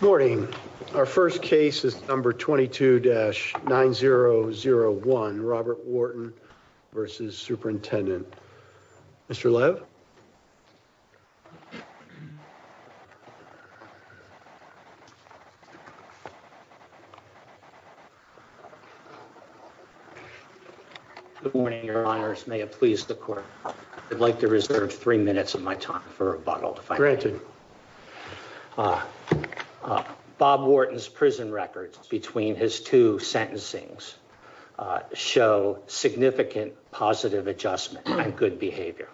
Morning, our first case is number 22-9001 Robert Wharton v. Superintendent. Mr. Lev? Good morning, your honors. May it please the court, I'd like to reserve three Bob Wharton's prison records between his two sentencings show significant positive adjustments and good behavior.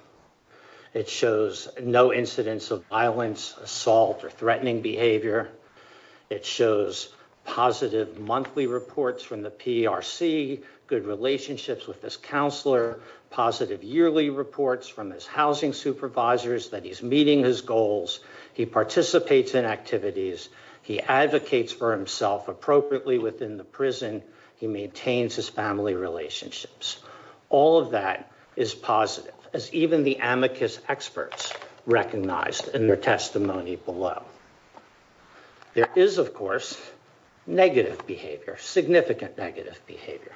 It shows no incidents of violence, assault, or threatening behavior. It shows positive monthly reports from the PRC, good relationships with his counselor, positive yearly reports from his housing supervisors, that he's meeting his goals, he participates in activities, he advocates for himself appropriately within the prison, he maintains his family relationships. All of that is positive as even the amicus experts recognized in their testimony below. There is of course negative behavior, significant negative behavior.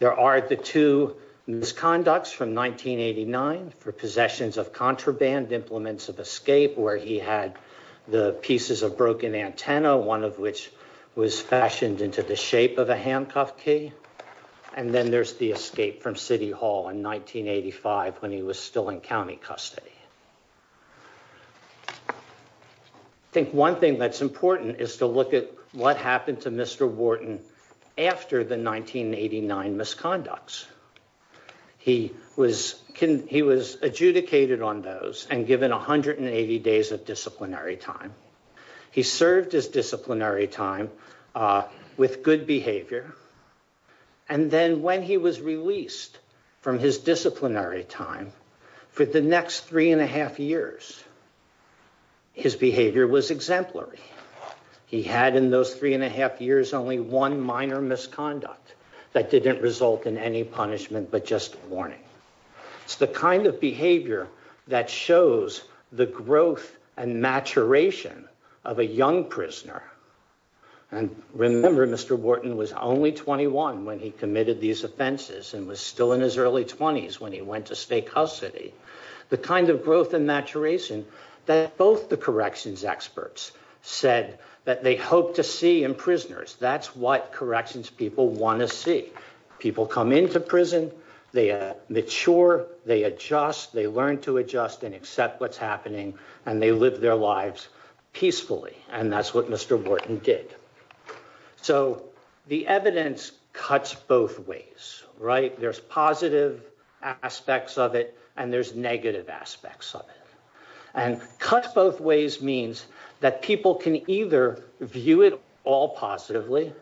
There are the two misconducts from 1989 for possessions of contraband implements of escape where he had the pieces of broken antennae, one of which was fashioned into the shape of a handcuff key, and then there's the escape from City Hall in 1985 when he was still in county custody. I think one thing that's important is to look at what happened to Mr. Wharton after the 1989 misconducts. He was adjudicated on those and given 180 days of disciplinary time. He served his disciplinary time with good behavior and then when he was released from his disciplinary time, for the next three and a half years, he was exemplary. He had in those three and a half years only one minor misconduct that didn't result in any punishment but just warning. It's the kind of behavior that shows the growth and maturation of a young prisoner and remember Mr. Wharton was only 21 when he committed these offenses and was still in his early 20s when he went to state custody. The kind of growth and maturity that Mr. Wharton had in his early 20s and early 30s said that they hoped to see in prisoners. That's what corrections people want to see. People come into prison, they mature, they adjust, they learn to adjust and accept what's happening and they live their lives peacefully and that's what Mr. Wharton did. So the evidence cuts both ways, right? There's positive aspects of it and there's negative aspects of it and cut both ways means that people can either view it all positively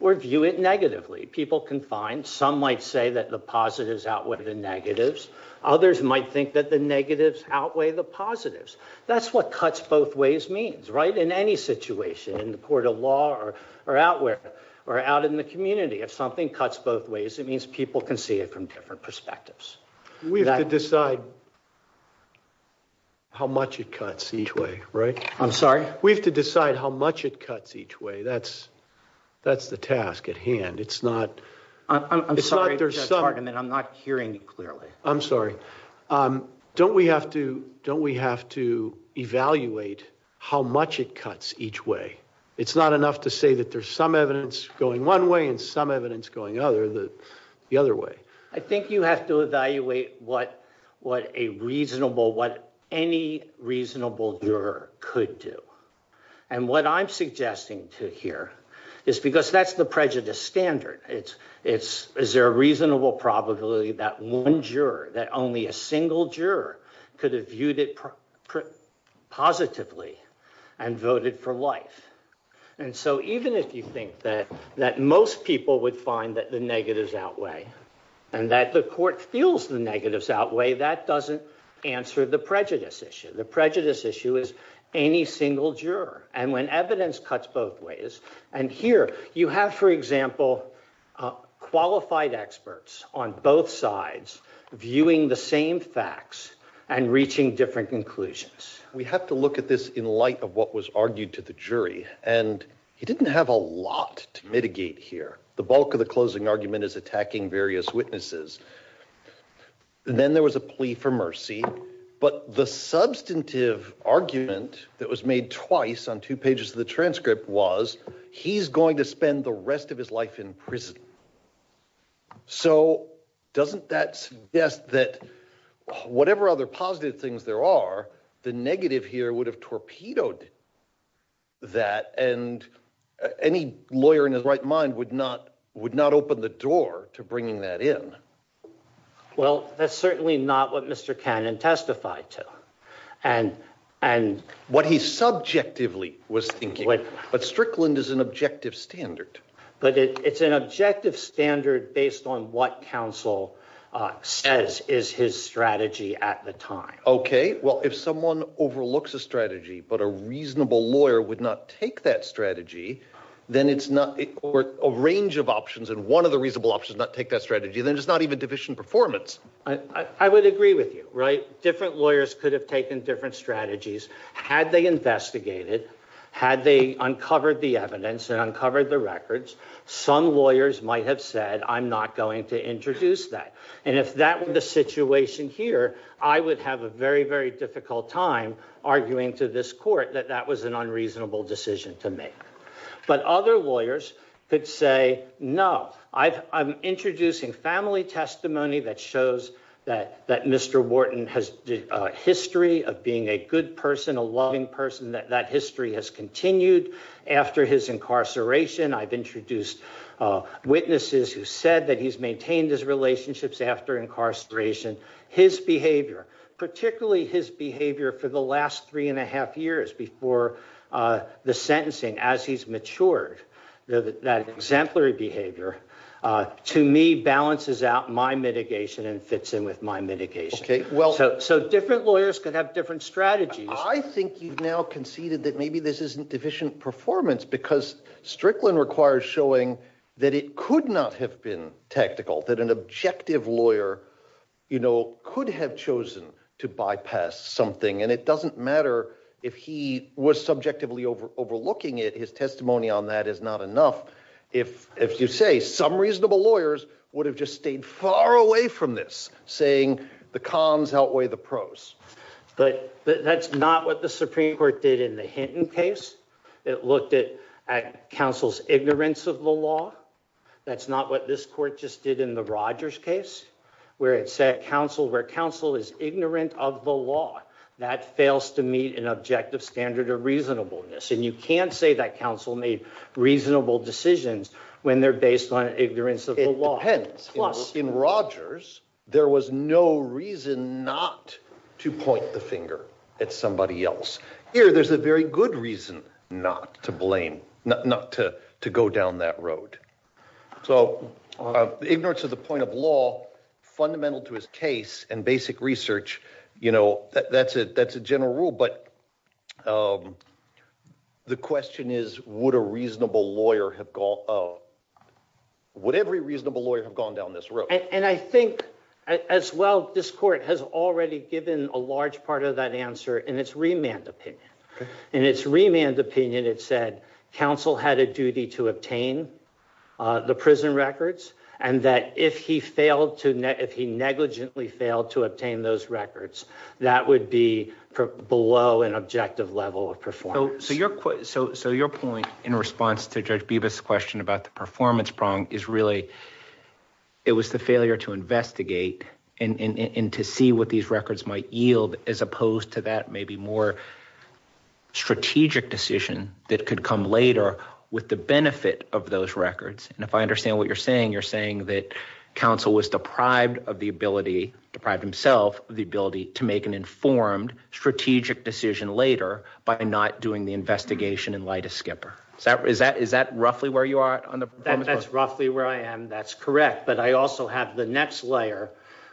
or view it negatively. People can find some might say that the positives outweigh the negatives. Others might think that the negatives outweigh the positives. That's what cuts both ways means, right? In any situation, in the court of law or out in the community, if something cuts both ways it means people can see it from different perspectives. We have to decide how much it cuts each way, right? I'm sorry? We have to decide how much it cuts each way. That's the task at hand. I'm sorry, Judge Hartman, I'm not hearing it clearly. I'm sorry. Don't we have to evaluate how much it cuts each way? It's not enough to say that there's some evidence going one way and some evidence going the other way. I think you have to evaluate what what a reasonable, what any reasonable juror could do and what I'm suggesting to hear is because that's the prejudice standard. Is there a reasonable probability that one juror, that only a single juror could have voted positively and voted for life? And so even if you think that that most people would find that the negatives outweigh and that the court feels the negatives outweigh, that doesn't answer the prejudice issue. The prejudice issue is any single juror and when evidence cuts both ways and here you have, for example, qualified experts on both sides viewing the same facts and reaching different conclusions. We have to look at this in light of what was argued to the jury and he didn't have a lot to mitigate here. The bulk of the closing argument is attacking various witnesses and then there was a plea for mercy but the substantive argument that was made twice on two pages of the transcript was he's going to spend the rest of his life in prison. So doesn't that suggest that whatever other positive things there are, the negative here would have torpedoed that and any lawyer in his right mind would not open the door to bringing that in. Well that's certainly not what Mr. Cannon testified to and what he subjectively was thinking, but Strickland is an objective standard. But it's an objective standard based on what counsel says is his strategy at the time. Okay, well if someone overlooks a strategy but a reasonable lawyer would not take that strategy then it's not a range of options and one of the reasonable options not take that strategy then it's not even division performance. I would agree with you, right? Different lawyers could have taken different strategies had they investigated, had they uncovered the evidence and uncovered the records. Some lawyers might have said I'm not going to introduce that and if that were the situation here I would have a very very difficult time arguing to this court that that was an unreasonable decision to make. But other lawyers could say no, I'm introducing family testimony that shows that Mr. Wharton has a history of being a good person, a loving person, that that history has continued after his incarceration. I've maintained his relationships after incarceration. His behavior, particularly his behavior for the last three and a half years before the sentencing as he's matured, that exemplary behavior to me balances out my mitigation and fits in with my mitigation. Okay, well so different lawyers could have different strategies. I think you've now conceded that maybe this isn't division performance because Strickland requires showing that it could not have been tactical. That an objective lawyer, you know, could have chosen to bypass something and it doesn't matter if he was subjectively over overlooking it. His testimony on that is not enough. If you say some reasonable lawyers would have just stayed far away from this saying the cons outweigh the pros. But that's not what the Supreme Court did in the Hinton case. It looked at counsel's law. That's not what this court just did in the Rogers case where it said counsel where counsel is ignorant of the law. That fails to meet an objective standard of reasonableness and you can't say that counsel made reasonable decisions when they're based on ignorance of the law. Plus in Rogers there was no reason not to point the finger at somebody else. Here there's a very good reason not to go down that road. So ignorance of the point of law, fundamental to his case and basic research, you know, that's it that's a general rule. But the question is would a reasonable lawyer have gone... would every reasonable lawyer have gone down this road? And I think as well this court has already given a large part of that answer in its remand opinion. In its remand opinion it said counsel had a duty to obtain the prison records and that if he failed to... if he negligently failed to obtain those records that would be below an objective level of performance. So your point in response to Judge Beavis' question about the performance prong is really it was the failure to investigate and to see what these records might yield as opposed to that maybe more strategic decision that the benefit of those records, and if I understand what you're saying, you're saying that counsel was deprived of the ability, deprived himself of the ability, to make an informed strategic decision later by not doing the investigation in light of Skipper. Is that roughly where you are? That's roughly where I am, that's correct, but I also have the next layer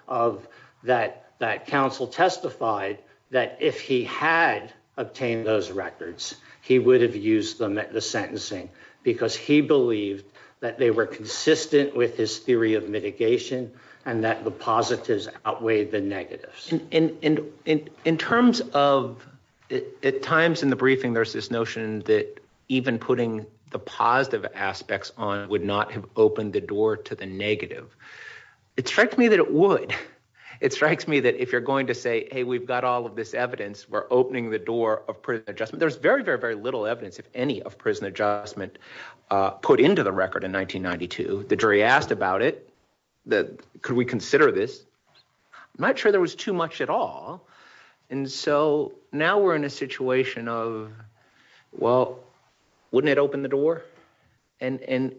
of that that counsel testified that if he had obtained those records he would have used them at the sentencing because he believed that they were consistent with his theory of mitigation and that the positives outweighed the negatives. In terms of... at times in the briefing there's this notion that even putting the positive aspects on would not have opened the door to the negative. It strikes me that it would. It strikes me that if you're going to say, hey, we've got all of this evidence, we're opening the door of prison adjustment, there's very, very, very little evidence, if any, of prison adjustment put into the record in 1992. The jury asked about it, could we consider this? Not sure there was too much at all, and so now we're in a situation of, well, wouldn't it open the door? The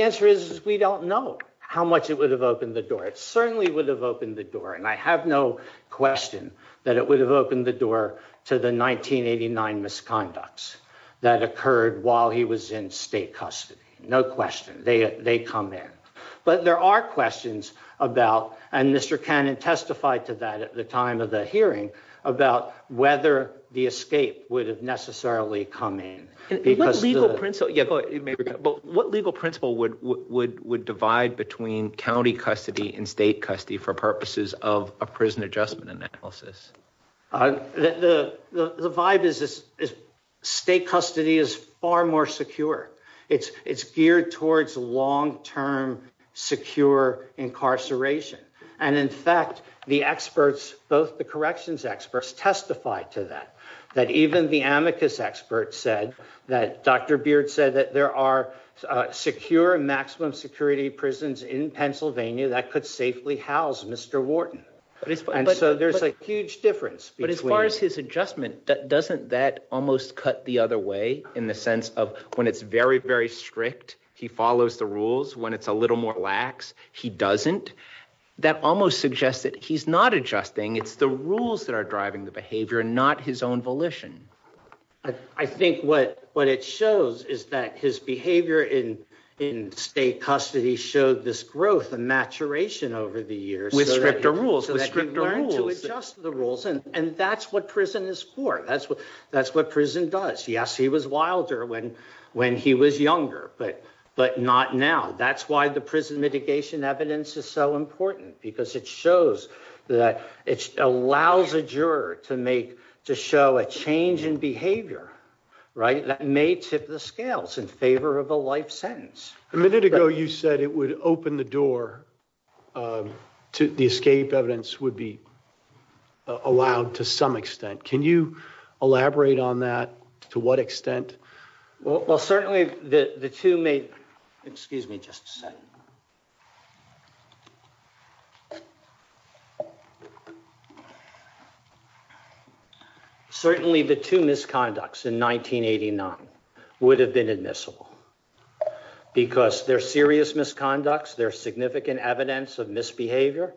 answer is we don't know how much it would have opened the door. It certainly would have opened the door, and I have no question that it would have opened the door to the 1989 misconducts that occurred while he was in state custody. No question. They come in, but there are questions about, and Mr. Cannon testified to that at the time of the hearing, about whether the escape would have necessarily come in. What legal principle would divide between county custody and state custody for purposes of a prison adjustment analysis? The vibe is state custody is far more secure. It's geared towards long-term secure incarceration, and in fact, the experts, both the amicus experts said that, Dr. Beard said that there are secure maximum security prisons in Pennsylvania that could safely house Mr. Wharton, and so there's a huge difference. But as far as his adjustment, doesn't that almost cut the other way, in the sense of when it's very, very strict, he follows the rules. When it's a little more lax, he doesn't. That almost suggests that he's not adjusting, it's the rules that are driving the behavior, not his own volition. I think what it shows is that his behavior in state custody showed this growth and maturation over the years. With stricter rules, with stricter rules. And that's what prison is for, that's what prison does. Yes, he was wilder when he was younger, but not now. That's why the prison mitigation evidence is so important, because it shows that it changes behavior, right? That may tip the scales in favor of a life sentence. A minute ago, you said it would open the door, the escape evidence would be allowed to some extent. Can you elaborate on that, to what extent? Well, certainly the two misconducts in 1989 would have been admissible, because they're serious misconducts, they're significant evidence of misbehavior.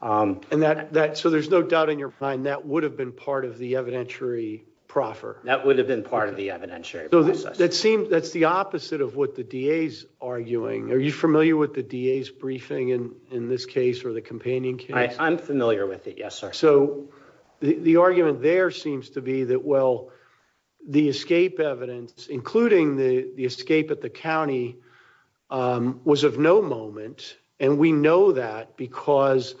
So there's no doubt in your mind that would have been part of the evidentiary proffer? That would have been part of the evidentiary process. That's the opposite of what the DA's arguing. Are you familiar with the DA's briefing in this case, or the companion case? I'm familiar with it, yes, sir. So the argument there seems to be that, well, the escape evidence, including the escape at the county, was of no moment. And we know that because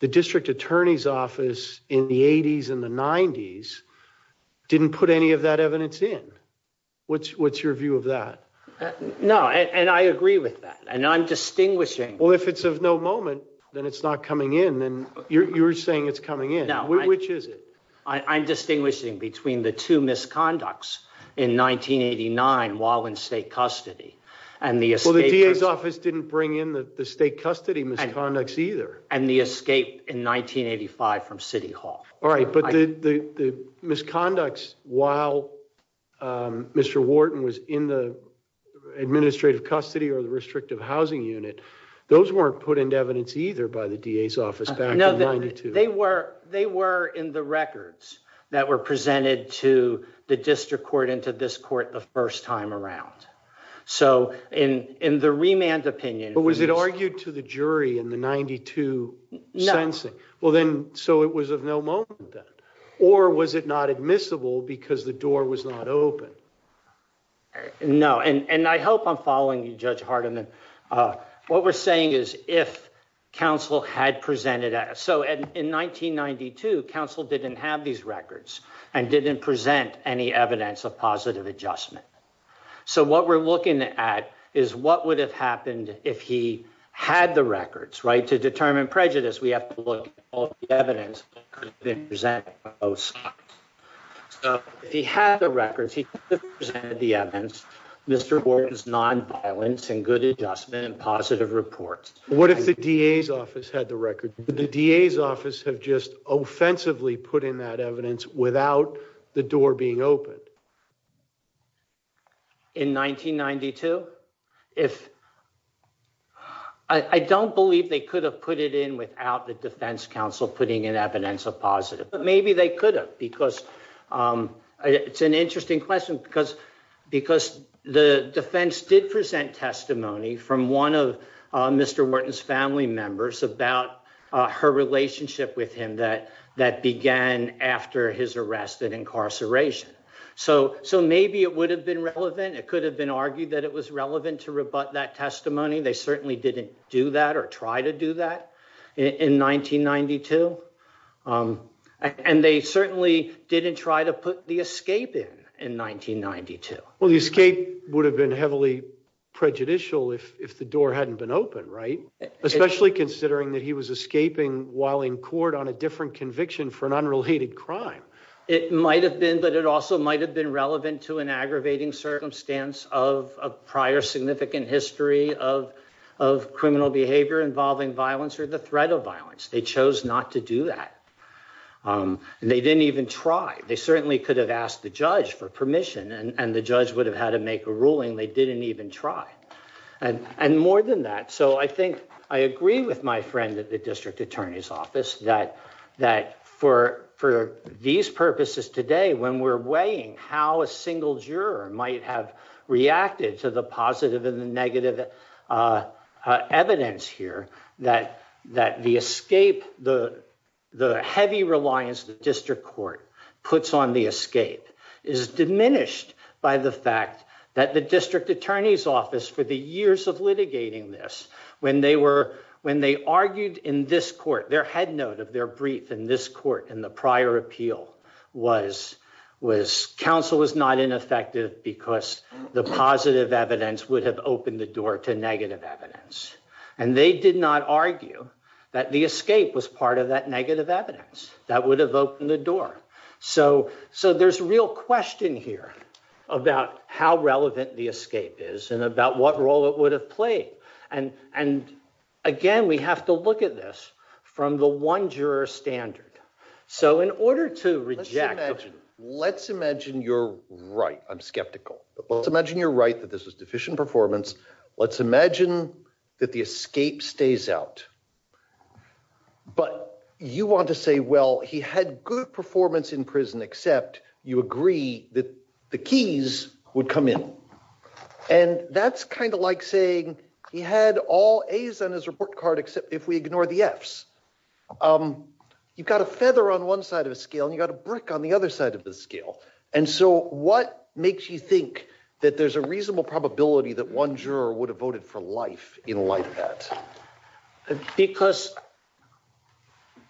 the District Attorney's Office didn't bring any of that evidence in. What's your view of that? No, and I agree with that, and I'm distinguishing... Well, if it's of no moment, then it's not coming in, and you're saying it's coming in. Which is it? I'm distinguishing between the two misconducts in 1989, while in state custody, and the escape... Well, the DA's office didn't bring in the state custody misconducts either. And the escape in 1985 from City Hall. All right, but the misconducts while Mr. Wharton was in the administrative custody or the restrictive housing unit, those weren't put into evidence either by the DA's office back in 1992. No, they were in the records that were presented to the district court and to this court the first time around. So in the remand opinion... But was it argued to the jury in the 1992 sentencing? No. Well then, so it was of no moment then. Or was it not admissible because the door was not open? No, and I hope I'm following you, Judge Hardiman. What we're saying is if counsel had presented... So in 1992, counsel didn't have these records and didn't present any evidence of positive adjustment. So what we're looking at is what would have happened if he had the records, right? To determine prejudice, we have to look at all the evidence that has been presented on both sides. So if he had the records, he presented the evidence, Mr. Wharton's non-violent and good adjustment and positive reports. What if the DA's office had the record? Would the DA's office have just offensively put in that evidence without the door being opened? In 1992? I don't believe they could have put it in without the defense counsel putting in evidence of positive. But maybe they could have because... It's an interesting question because the defense did present testimony from one of Mr. Wharton's family members about her relationship with him that began after his arrest and incarceration. So maybe it would have been relevant. It could have been argued that it was relevant to rebut that testimony. They certainly didn't do that or try to do that in 1992. And they certainly didn't try to put the escape in in 1992. Well the escape would have been heavily prejudicial if the door hadn't been open, right? Especially considering that he was escaping while in court on a different conviction for an unrelated crime. It might have been, but it also might have been relevant to an aggravating circumstance of a prior significant history of criminal behavior involving violence or the threat of violence. They chose not to do that. And they didn't even try. They certainly could have asked the judge for permission and the judge would have had to make a ruling. They didn't even try. And more than that, so I think I agree with my friend at the District Attorney's Office that for these purposes today, when we're weighing how a single juror might have reacted to the positive and the negative evidence here, that the escape, the heavy reliance the District Court puts on the escape is diminished by the fact that the District Attorney's Office, for the years of litigating this, when they argued in this court, their head note of their brief in this court in the prior appeal was, counsel was not ineffective because the positive evidence would have opened the door to negative evidence. And they did not argue that the escape was part of that negative evidence that would have opened the door. So there's a real question here about how relevant the escape is and about what role it would have played. And again, we have to look at this from the one juror standard. So in order to reject... Let's imagine you're right, I'm skeptical. Let's imagine you're right that this is deficient performance. Let's imagine that the escape stays out. But you want to say, well, he had good performance in prison except you agree that the keys would come in. And that's kind of like saying he had all A's on his report card except if we ignore the F's. You've got a feather on one side of the scale, you got a brick on the other side of the scale. And so what makes you think that there's a reasonable probability that one juror would have voted for life in light of that? Because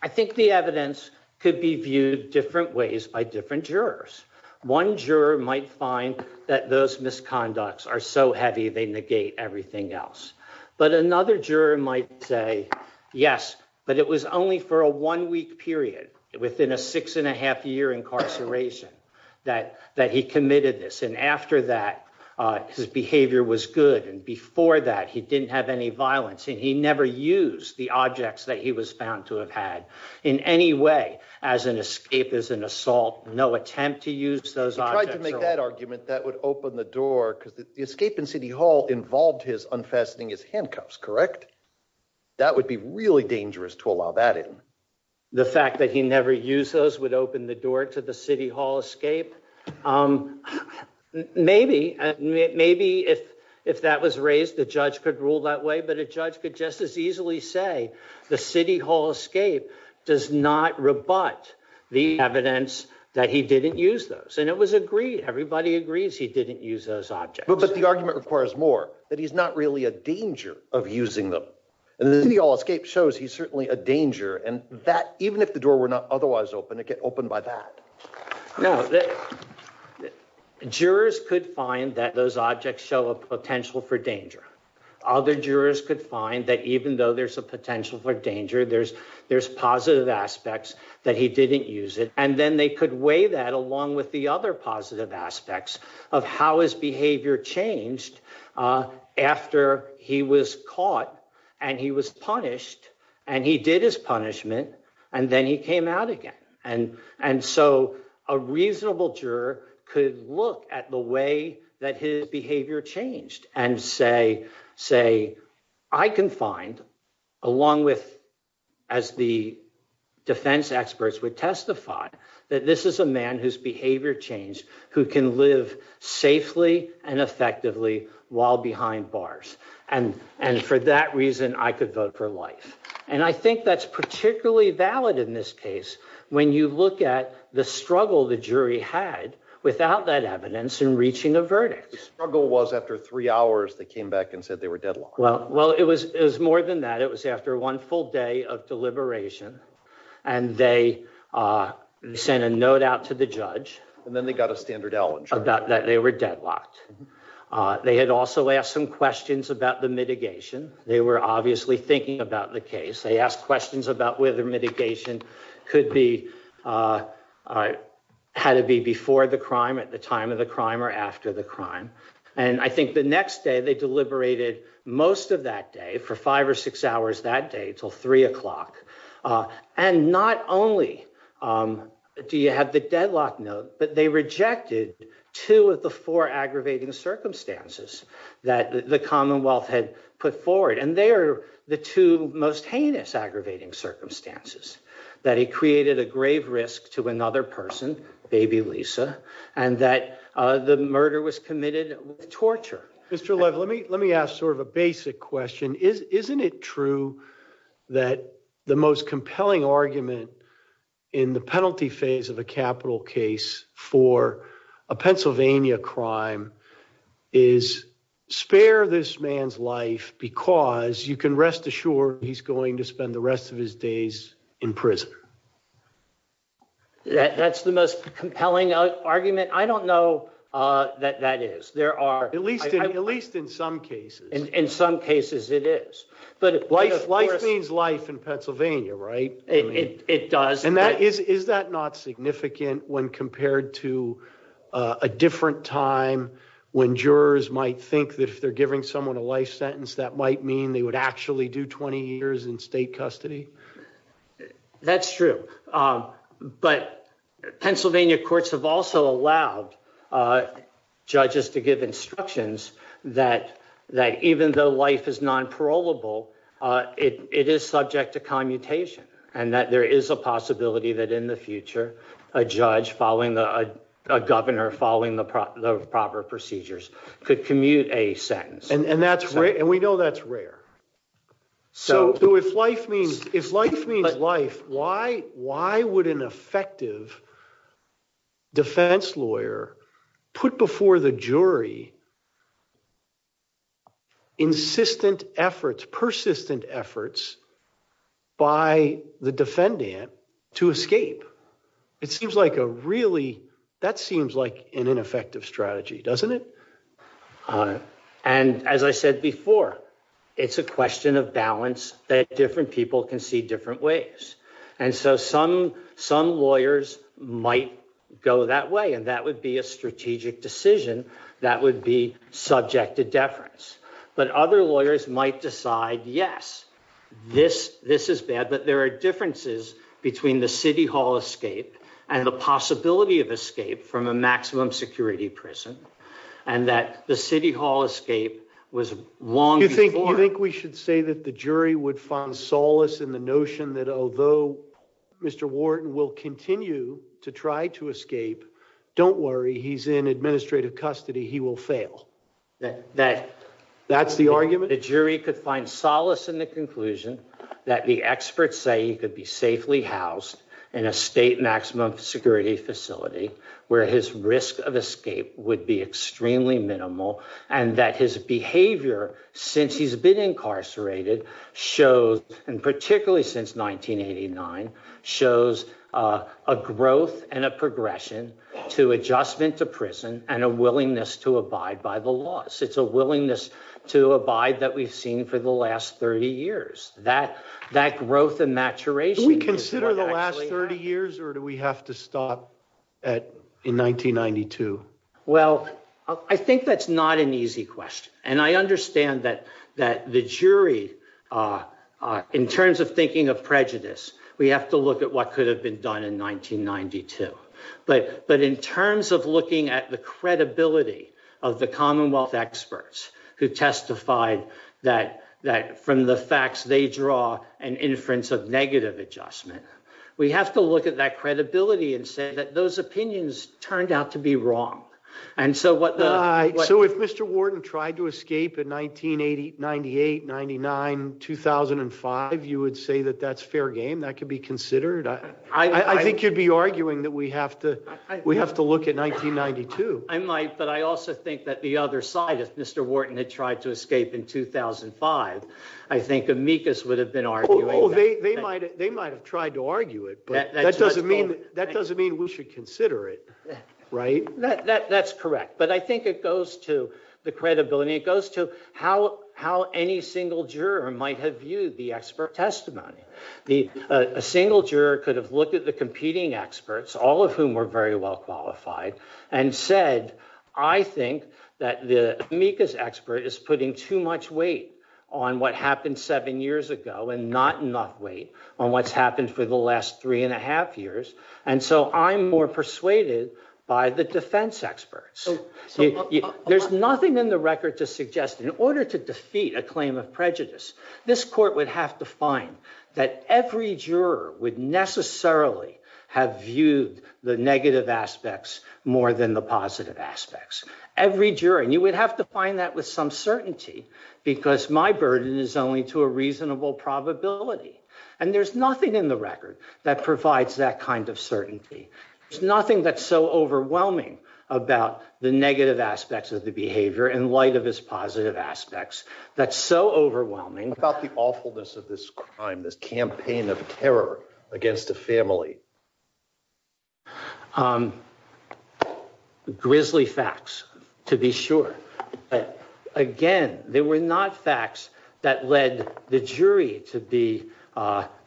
I think the evidence could be viewed different ways by different jurors. One juror might find that those misconducts are so heavy they negate everything else. But another juror might say, yes, but it was only for a one-week period within a six and a half year incarceration that he committed this. And after that, his behavior was good. And before that, he didn't have any violence. And he never used the objects that he was found to have had in any way as an escape, as an assault. No attempt to use those objects at all. If I could make that argument, that would open the door because the escape in City Hall involved his unfastening his handcuffs, correct? That would be really dangerous to allow that in. The fact that he never used those would open the door to the City Hall escape. Maybe, maybe if that was raised, the judge could rule that way. But a judge could just as easily say the City Hall escape does not rebut the evidence that he didn't use those. And it was agreed. Everybody agrees he didn't use those objects. Because the argument requires more, that he's not really a danger of using them. And the City Hall escape shows he's certainly a danger. And that even if the door were not otherwise open, it get opened by that. Now, jurors could find that those objects show a potential for danger. Other jurors could find that even though there's a potential for danger, there's, there's positive aspects that he didn't use it. And then they could weigh that along with the other positive aspects of how his behavior changed after he was caught, and he was punished, and he did his punishment, and then he came out again. And, and so a reasonable juror could look at the way that his behavior changed and say, say, I can find, along with, as the defense experts would testify, that this is a man whose behavior changed, who can live safely and for that reason, I could vote for life. And I think that's particularly valid in this case, when you look at the struggle the jury had without that evidence in reaching a verdict. The struggle was after three hours, they came back and said they were deadlocked. Well, well, it was, it was more than that. It was after one full day of deliberation. And they sent a note out to the judge. And then they got a standard outline. About that they were deadlocked. They had also asked some questions about the mitigation. They were obviously thinking about the case. They asked questions about whether mitigation could be, had it be before the crime, at the time of the crime, or after the crime. And I think the next day they deliberated most of that day, for five or six hours that day, until three o'clock. And not only do you have the deadlock note, but they rejected two of the four aggravating circumstances that the Commonwealth had put forward. And they are the two most heinous aggravating circumstances. That he created a grave risk to another person, baby Lisa, and that the murder was committed with torture. Mr. Lev, let me, let me ask sort of a basic question. Isn't it true that the most compelling argument in the penalty phase of a capital case for a Pennsylvania crime is spare this man's life because you can rest assured he's going to spend the rest of his days in prison? That's the most compelling argument. I don't know that that is. There are, at least, at least in some cases, in some cases it is. But life means life in Pennsylvania, right? It does. And that is, is that not significant when compared to a different time when jurors might think that if they're giving someone a life sentence, that might mean they would actually do 20 years in state custody? That's true. But Pennsylvania courts have also allowed judges to give instructions that, that even though life is non-parolable, it is subject to commutation and that there is a possibility that in the future, a judge following the, a governor following the proper procedures could commute a sentence. And that's right. And we know that's rare. So if life means, if life means life, why, why would an effective defense lawyer put before the jury insistent efforts, persistent efforts by the defendant to escape? It seems like a really, that seems like an ineffective strategy, doesn't it? And as I said before, it's a question of balance that different people can see different ways. And so some, some lawyers might go that way and that would be a strategic decision that would be subject to deference. But other lawyers might decide, yes, this, this is bad, but there are differences between the city hall escape and the possibility of escape from a maximum security prison. And that the city hall escape was long. Do you think, do you think we should say that the jury would find solace in the notion that although Mr. Wharton will continue to try to escape, don't worry, he's in administrative custody, he will fail. That, that's the argument? That the jury could find solace in the conclusion that the experts say he could be safely housed in a state maximum security facility where his risk of escape would be extremely minimal and that his behavior since he's been incarcerated shows, and particularly since 1989, shows a growth and a progression to adjustment to prison and a willingness to abide by the laws. It's a willingness to abide that we've seen for the last 30 years, that, that growth and maturation. Do we consider the last 30 years or do we have to stop at in 1992? Well, I think that's not an easy question. And I understand that, that the jury, in terms of thinking of prejudice, we have to look at what could have been done in 1992. But, but in terms of looking at the credibility of the Commonwealth experts who testified that, that from the facts they draw an inference of negative adjustment, we have to look at that credibility and say that those opinions turned out to be wrong. And so what, so if Mr. Wharton tried to escape in 1980, 98, 99, 2005, you would say that that's fair game. That could be considered. I think you'd be arguing that we have to, we have to look at 1992. I might, but I also think that the other side, if Mr. Wharton had tried to escape in 2005, I think amicus would have been arguing that. Oh, they, they might, they might've tried to argue it, but that doesn't mean, that doesn't mean we should consider it, right? That, that, that's correct. But I think it goes to the credibility. It goes to how, how any single juror might have viewed the expert testimony. The, a single juror could have looked at the competing experts, all of whom were very well qualified, and said, I think that the amicus expert is putting too much weight on what happened seven years ago and not enough weight on what's happened for the last three and a half years. And so I'm more persuaded by the defense experts. So there's nothing in the record to suggest in order to defeat a claim of that every juror would necessarily have viewed the negative aspects more than the positive aspects. Every juror, and you would have to find that with some certainty, because my burden is only to a reasonable probability. And there's nothing in the record that provides that kind of certainty. There's nothing that's so overwhelming about the negative aspects of the behavior in light of its positive aspects. That's so overwhelming. What about the awfulness of this crime, this campaign of terror against a family? Grizzly facts, to be sure. Again, they were not facts that led the jury to be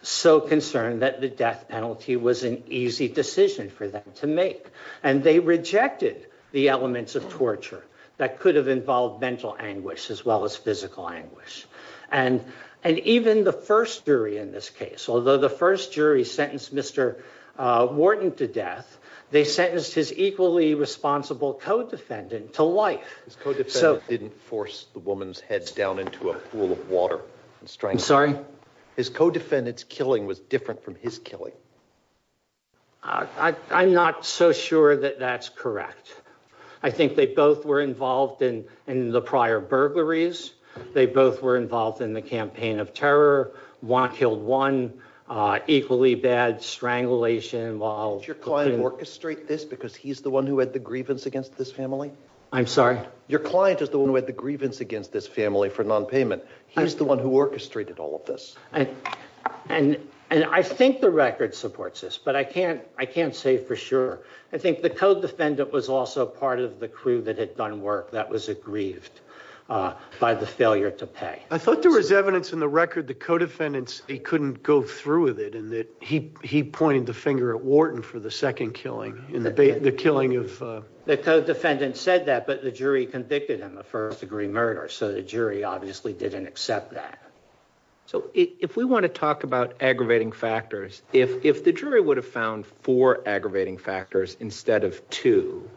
so concerned that the death penalty was an easy decision for them to make. And they rejected the elements of torture that could have involved mental anguish as well as physical anguish. And even the first jury in this case, although the first jury sentenced Mr. Wharton to death, they sentenced his equally responsible co-defendant to life. His co-defendant didn't force the woman's head down into a pool of water. I'm sorry? His co-defendant's killing was different from his killing. I'm not so sure that that's correct. I think they both were involved in the prior burglaries. They both were involved in the campaign of terror. One killed one. Equally bad strangulation involved. Did your client orchestrate this because he's the one who had the grievance against this family? I'm sorry? Your client is the one who had the grievance against this family for non-payment. He's the one who orchestrated all of this. And I think the record supports this, but I can't say for sure. I think the co-defendant was also part of the crew that had done work that was grieved by the failure to pay. I thought there was evidence in the record that co-defendants, they couldn't go through with it, and that he pointed the finger at Wharton for the second killing. In the killing of- The co-defendant said that, but the jury convicted him of first degree murder, so the jury obviously didn't accept that. So if we want to talk about aggravating factors, if the jury would have found four aggravating factors instead of two,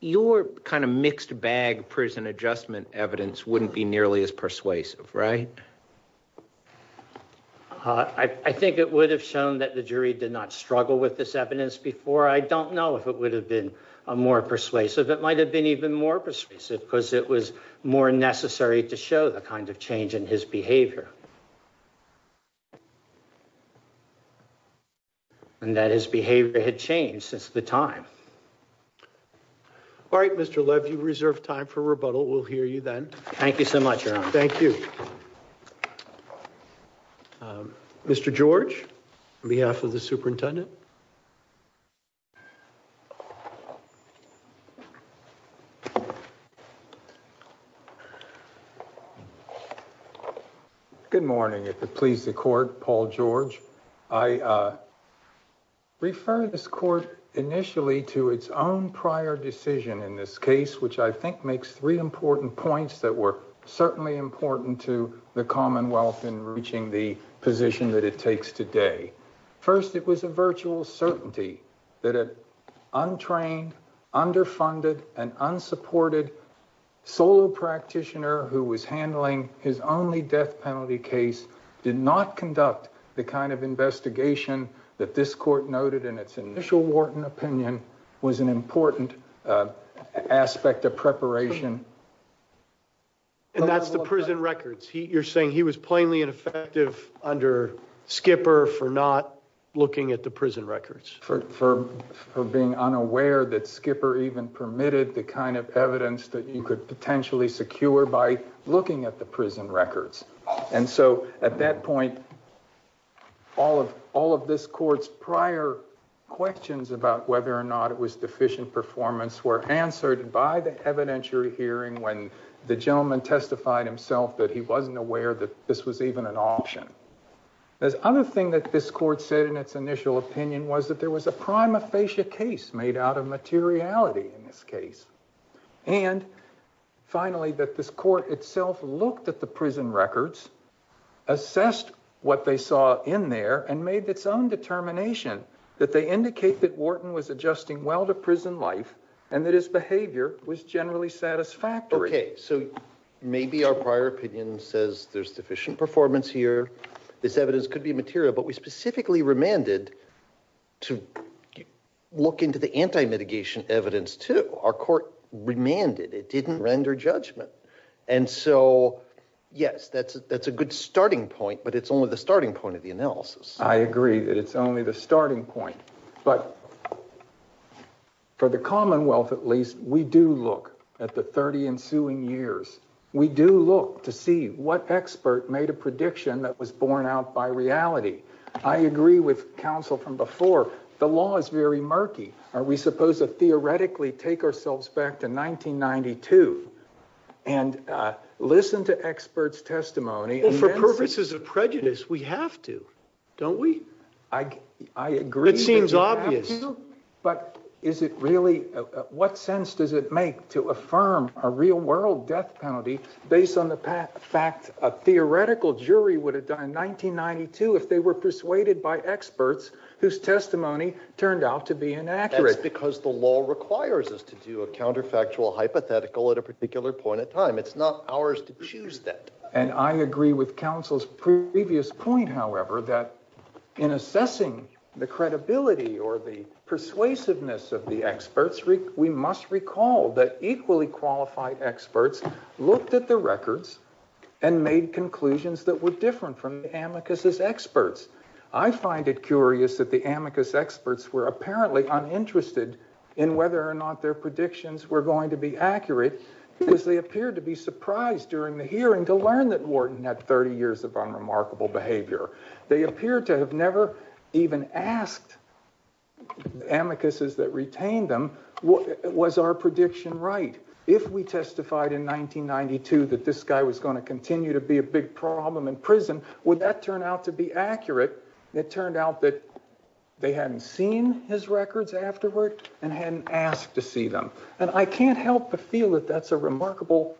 your kind of mixed bag prison adjustment evidence wouldn't be nearly as persuasive, right? I think it would have shown that the jury did not struggle with this evidence before. I don't know if it would have been more persuasive. It might have been even more persuasive because it was more necessary to show the kind of change in his behavior. And that his behavior had changed since the time. All right, Mr. Levy, we reserve time for rebuttal. We'll hear you then. Thank you so much, Aaron. Thank you. Mr. George, on behalf of the superintendent. Good morning. If it pleases the court, Paul George. I refer this court initially to its own prior decision in this case, which I think makes three important points that were certainly important to the commonwealth in reaching the position that it takes today. First, it was a virtual certainty that an untrained, underfunded, and unsupported solo practitioner who was handling his only death penalty case did not conduct the kind of investigation that this court noted in its initial warden opinion was an important aspect of preparation. And that's the prison records. You're saying he was plainly ineffective under Skipper for not looking at the prison records. For being unaware that Skipper even permitted the kind of evidence that you could potentially secure by looking at the prison records. And so at that point, all of this court's prior questions about whether or not it was deficient performance were answered by the evidentiary hearing when the gentleman testified himself that he wasn't aware that this was even an option. The other thing that this court said in its initial opinion was that there was a prima facie case made out of materiality in this case. And finally, that this court itself looked at the prison records, assessed what they saw in there, and made its own determination. That they indicate that Wharton was adjusting well to prison life, and that his behavior was generally satisfactory. Okay, so maybe our prior opinion says there's deficient performance here. This evidence could be material, but we specifically remanded to look into the anti-mitigation evidence too. Our court remanded, it didn't render judgment. And so, yes, that's a good starting point, but it's only the starting point of the analysis. I agree that it's only the starting point. But for the Commonwealth, at least, we do look at the 30 ensuing years. We do look to see what expert made a prediction that was borne out by reality. I agree with counsel from before, the law is very murky. We supposed to theoretically take ourselves back to 1992 and listen to expert's testimony and- For purposes of prejudice, we have to, don't we? I agree- It seems obvious. But is it really, what sense does it make to affirm a real world death penalty based on the fact a theoretical jury would have done in 1992 if they were persuaded by experts whose testimony turned out to be inaccurate? Because the law requires us to do a counterfactual hypothetical at a particular point in time. It's not ours to choose that. And I agree with counsel's previous point, however, that in assessing the credibility or the persuasiveness of the experts, we must recall that equally qualified experts looked at the records and made conclusions that were different from the amicus' experts. I find it curious that the amicus' experts were apparently uninterested in whether or not their predictions were going to be accurate, because they appeared to be surprised during the hearing to learn that Wharton had 30 years of unremarkable behavior. They appeared to have never even asked amicus' that retained them, was our prediction right? If we testified in 1992 that this guy was gonna continue to be a big problem in the district, it turned out that they hadn't seen his records afterward and hadn't asked to see them. And I can't help but feel that that's a remarkable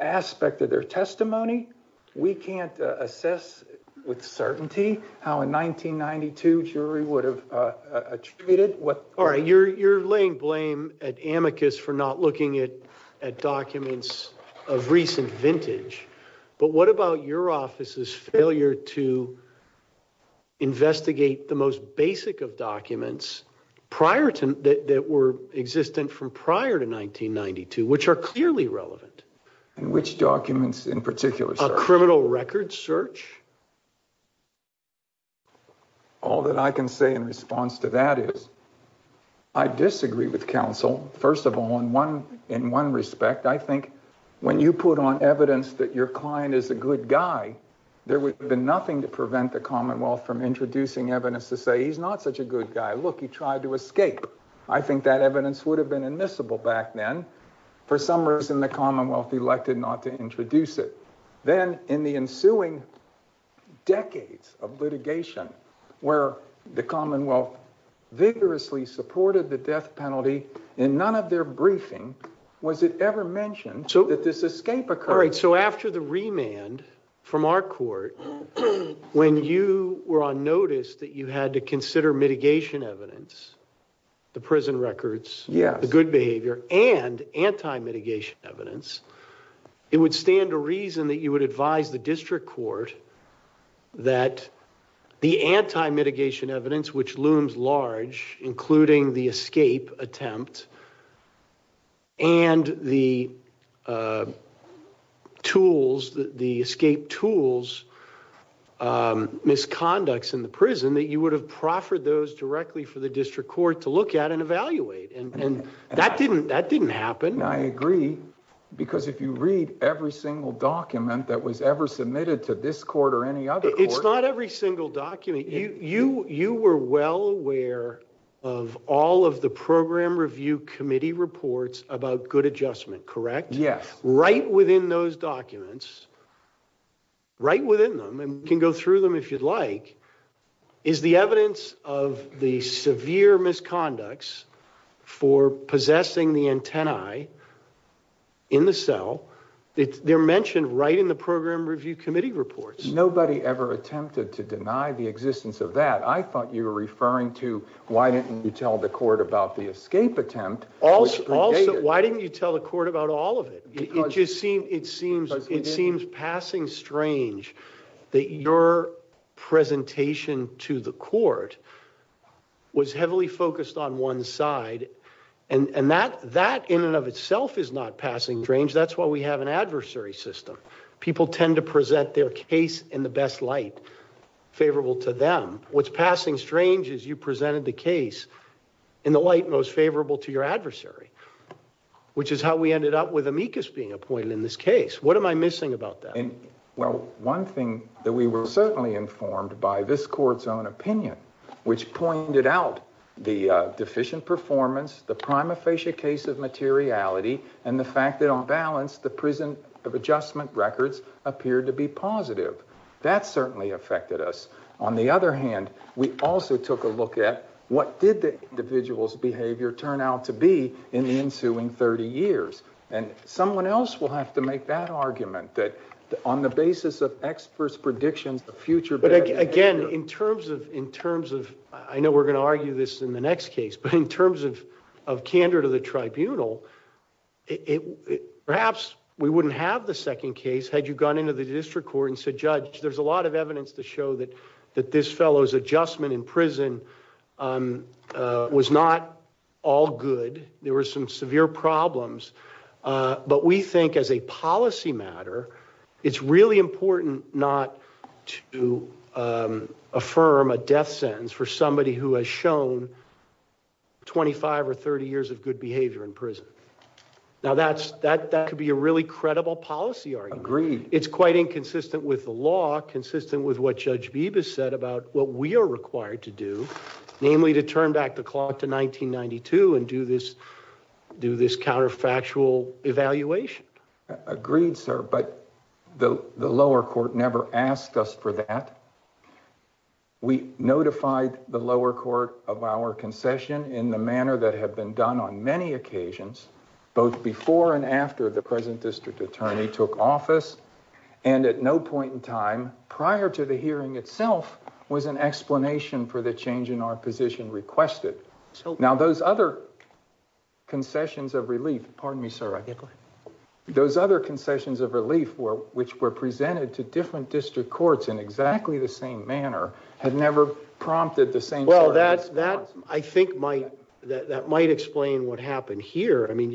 aspect of their testimony. We can't assess with certainty how a 1992 jury would have treated what. All right, you're laying blame at amicus for not looking at documents of recent vintage. But what about your office's failure to investigate the most basic of documents prior to that were existent from prior to 1992, which are clearly relevant? In which documents in particular? A criminal records search? All that I can say in response to that is, I disagree with counsel. First of all, in one respect, I think when you put on evidence that your client is a good guy, there would have been nothing to prevent the commonwealth from introducing evidence to say he's not such a good guy. Look, he tried to escape. I think that evidence would have been admissible back then. For some reason, the commonwealth elected not to introduce it. Then, in the ensuing decades of litigation, where the commonwealth vigorously supported the death penalty. In none of their briefing was it ever mentioned that this escape occurred. After the remand from our court, when you were on notice that you had to consider mitigation evidence, the prison records, the good behavior, and anti-mitigation evidence, it would stand to reason that you would advise the district court that the anti-mitigation evidence, which looms large, including the escape attempt, and the escape tools misconducts in the prison, that you would have proffered those directly for the district court to look at and evaluate. That didn't happen. I agree, because if you read every single document that was ever submitted to this court or any other court- It's not every single document. You were well aware of all of the Program Review Committee reports about good adjustment, correct? Yes. Right within those documents, right within them, and you can go through them if you'd like, is the evidence of the severe misconducts for possessing the antennae in the cell. They're mentioned right in the Program Review Committee reports. Nobody ever attempted to deny the existence of that. I thought you were referring to, why didn't you tell the court about the escape attempt? Why didn't you tell the court about all of it? It seems passing strange that your presentation to the court was heavily focused on one side. And that, in and of itself, is not passing strange. That's why we have an adversary system. People tend to present their case in the best light favorable to them. What's passing strange is you presented the case in the light most favorable to your adversary, which is how we ended up with amicus being appointed in this case. What am I missing about that? Well, one thing that we were certainly informed by this court's own opinion, which pointed out the deficient performance, the prima facie case of materiality, and the fact that on balance, the prison of adjustment records appeared to be positive. That certainly affected us. On the other hand, we also took a look at what did the individual's behavior turn out to be in the ensuing 30 years? And someone else will have to make that argument that on the basis of experts' predictions of future- But again, in terms of, I know we're gonna argue this in the next case, but in terms of candor to the tribunal, perhaps we wouldn't have the second case had you gone into the district court and said, judge, there's a lot of evidence to show that this fellow's adjustment in prison was not all good. There were some severe problems, but we think as a policy matter, it's really important not to affirm a death sentence for 25 or 30 years of good behavior in prison. Now, that could be a really credible policy argument. Agreed. It's quite inconsistent with the law, consistent with what Judge Bibas said about what we are required to do, namely to turn back the clock to 1992 and do this counterfactual evaluation. Agreed, sir, but the lower court never asked us for that. We notified the lower court of our concession in the manner that had been done on many occasions, both before and after the present district attorney took office. And at no point in time, prior to the hearing itself, was an explanation for the change in our position requested. Now, those other concessions of relief, pardon me, sir. Those other concessions of relief which were presented to different district courts in exactly the same manner had never prompted the same- Well, I think that might explain what happened here. I mean,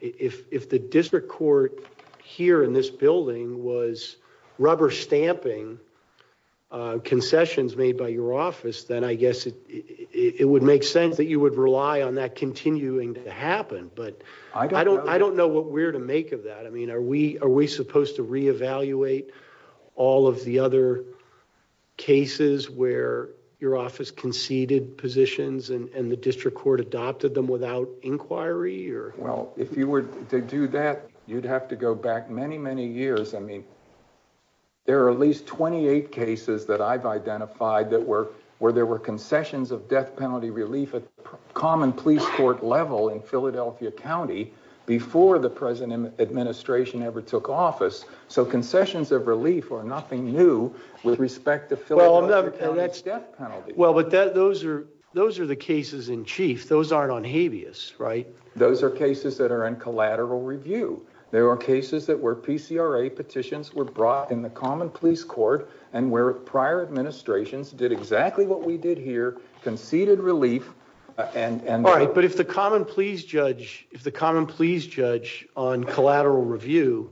if the district court here in this building was rubber stamping concessions made by your office, then I guess it would make sense that you would rely on that continuing to happen. But I don't know what we're to make of that. I mean, are we supposed to reevaluate all of the other cases where your office conceded positions and the district court adopted them without inquiry? Well, if you were to do that, you'd have to go back many, many years. I mean, there are at least 28 cases that I've identified where there were concessions of death penalty relief at common police court level in Philadelphia County before the present administration ever took office. So concessions of relief are nothing new with respect to Philadelphia death penalty. Well, but those are the cases in chief. Those aren't on habeas, right? Those are cases that are in collateral review. There are cases that were PCRA petitions were brought in the common police court and where prior administrations did exactly what we did here, conceded relief and- But if the common police judge on collateral review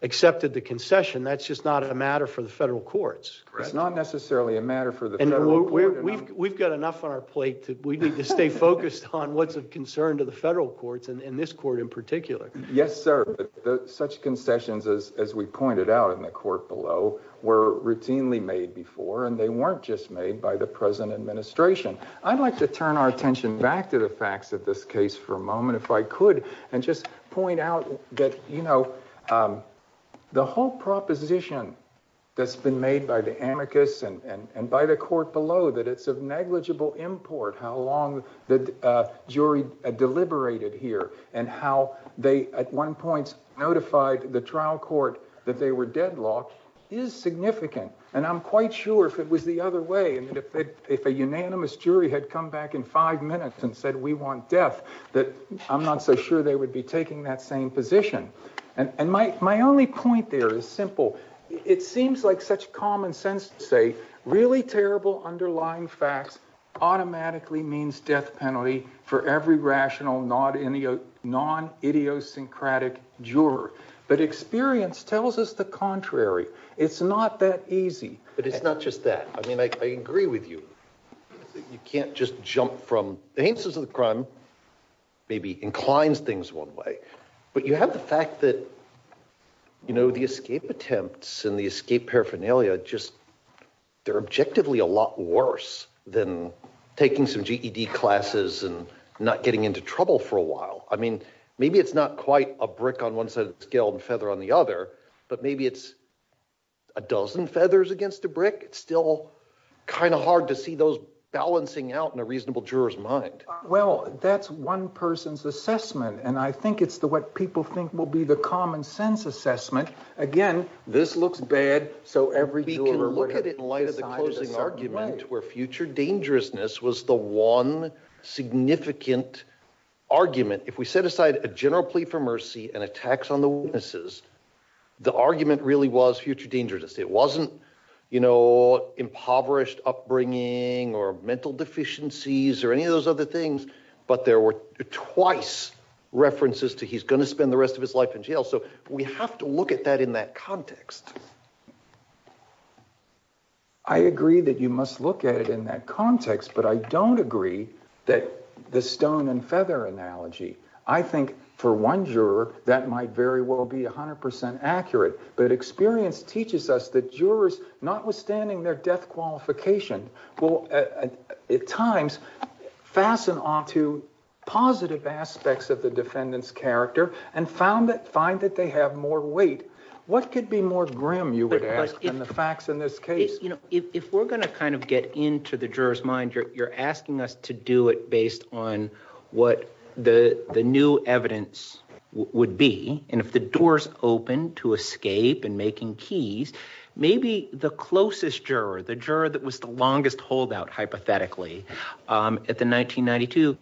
accepted the concession, that's just not a matter for the federal courts. It's not necessarily a matter for the federal court. We've got enough on our plate that we need to stay focused on what's of concern to the federal courts and this court in particular. Yes, sir. Such concessions, as we pointed out in the court below, were routinely made before, and they weren't just made by the present administration. I'd like to turn our attention back to the facts of this case for a moment, if I could, and just point out that, you know, the whole proposition that's been made by the amicus and by the court below, that it's a negligible import, how long the jury deliberated here and how they, at one point, notified the trial court that they were deadlocked, is significant. And I'm quite sure if it was the other way, that if a unanimous jury had come back in five minutes and said, we want death, that I'm not so sure they would be taking that same position. And my only point there is simple. It seems like such common sense to say, really terrible underlying facts automatically means death penalty for every rational, non-idiosyncratic juror. But experience tells us the contrary. It's not that easy, but it's not just that. I mean, I agree with you. You can't just jump from the hands of the crime, maybe incline things one way, but you have the fact that, you know, the escape attempts and the escape paraphernalia just, they're objectively a lot worse than taking some GED classes and not getting into trouble for a while. I mean, maybe it's not quite a brick on one side of the scale and feather on the other, but maybe it's a dozen feathers against a brick. It's still kind of hard to see those balancing out in a reasonable juror's mind. Well, that's one person's assessment, and I think it's what people think will be the common sense assessment. Again, this looks bad, so every juror would have to look at it in light of the closing argument where future dangerousness was the one significant argument. If we set aside a general plea for mercy and a tax on the witnesses, the argument really was future dangerousness. It wasn't, you know, impoverished upbringing or mental deficiencies or any of those other things, but there were twice references to he's going to spend the rest of his life in jail, so we have to look at that in that context. I agree that you must look at it in that context, but I don't agree that the stone and feather analogy. I think for one juror, that might very well be 100% accurate, but experience teaches us that jurors, notwithstanding their death qualification, will at times fasten onto positive aspects of the defendant's character and find that they have more weight. What could be more grim, you would ask, than the facts in this case? If we're going to kind of get into the juror's mind, you're asking us to do it based on what the new evidence would be, and if the door's open to escape and making keys, maybe the closest juror, the juror that was the longest holdout, hypothetically, at the 1992,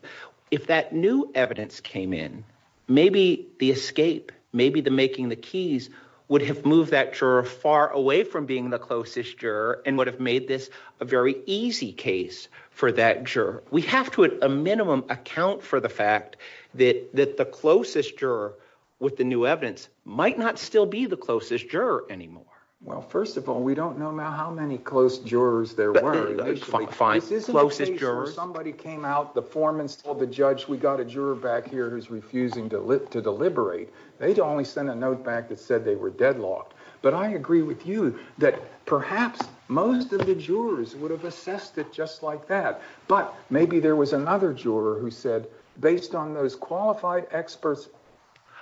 if that new evidence came in, maybe the escape, maybe the making the keys, would have moved that juror far away from being the closest juror and would have made this a very easy case for that juror. We have to, at a minimum, account for the fact that the closest juror with the new evidence might not still be the closest juror anymore. Well, first of all, we don't know now how many close jurors there were. That's fine. If this is the case where somebody came out, the foreman told the judge, we got a juror back here who's refusing to deliberate, they'd only send a note back that said they were deadlocked. But I agree with you that perhaps most of the jurors would have assessed it just like that. But maybe there was another juror who said, based on those qualified experts,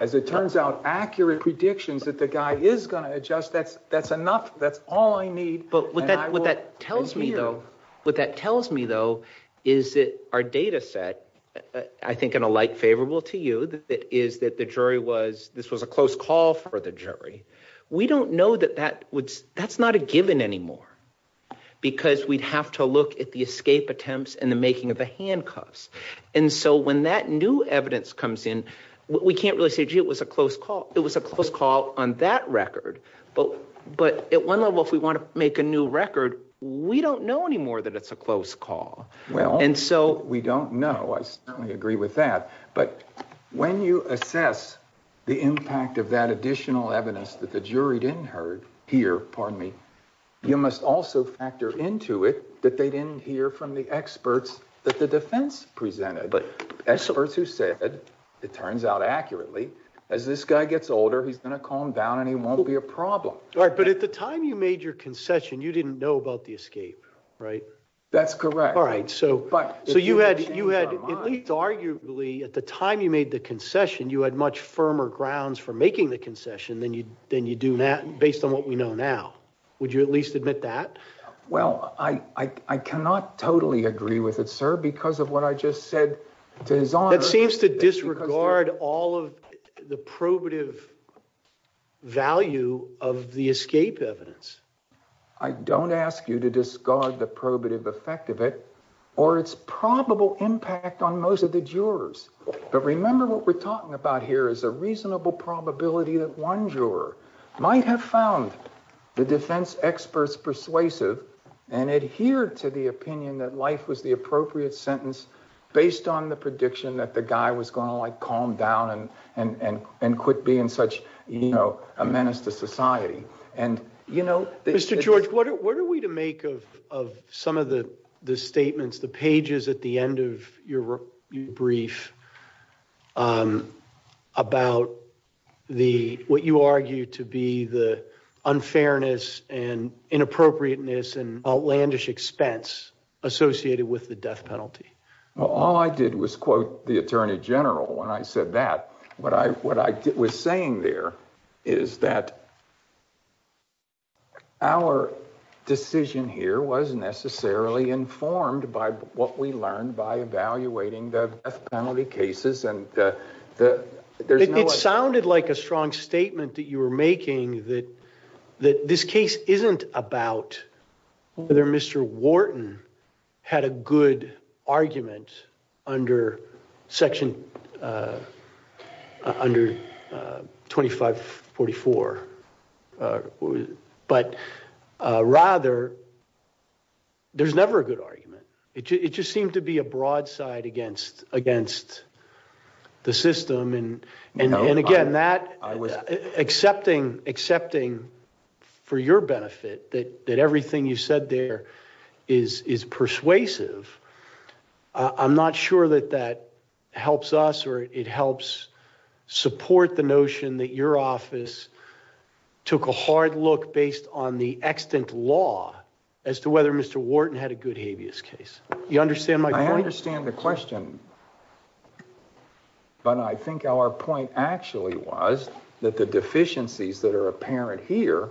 as it turns out, accurate predictions that the guy is going to adjust, that's enough, that's all I need. But what that tells me, though, what that tells me, though, is that our data set, I think in a light favorable to you, is that the jury was, this was a close call for the jury. We don't know that that's not a given anymore because we'd have to look at the escape attempts and the making of the handcuffs. And so when that new evidence comes in, we can't really say, gee, it was a close call. It was a close call on that record. But at one level, if we want to make a new record, we don't know anymore that it's a close call. And so we don't know. I certainly agree with that. But when you assess the impact of that additional evidence that the jury didn't hear from me, you must also factor into it that they didn't hear from the experts that the defense presented, the experts who said, it turns out accurately, as this guy gets older, he's going to calm down and he won't be a problem. All right, but at the time you made your concession, you didn't know about the escape, right? That's correct. All right, so you had, at least arguably, at the time you made the concession, you had much firmer grounds for making the concession than you do now, based on what we know now. Would you at least admit that? Well, I cannot totally agree with it, sir, because of what I just said to his honor. That seems to disregard all of the probative value of the escape evidence. I don't ask you to discard the probative effect of it, or its probable impact on most of the jurors. But remember what we're talking about here is a reasonable probability that one juror might have found the defense experts persuasive and adhered to the opinion that life was the appropriate sentence, based on the prediction that the guy was going to, like, calm down and quit being such, you know, a menace to society. And, you know... Mr. George, what are we to make of some of the statements, the pages at the end of your brief, about what you argue to be the unfairness and inappropriateness and outlandish expense associated with the death penalty? Well, all I did was quote the attorney general when I said that. What I was saying there is that our decision here was necessarily informed by what we learned by evaluating the death penalty cases, and there's no... It sounded like a strong statement that you were making that this case isn't about whether Mr. Wharton had a good argument under Section 2544, but, rather, there's never a good argument. It just seemed to be a broadside against the system, and, again, that... Accepting, for your benefit, that everything you said there is persuasive, I'm not sure that that helps us or it helps support the notion that your office took a hard look based on the extant law as to whether Mr. Wharton had a good habeas case. You understand my point? I understand the question, but I think our point actually was that the deficiencies that are apparent here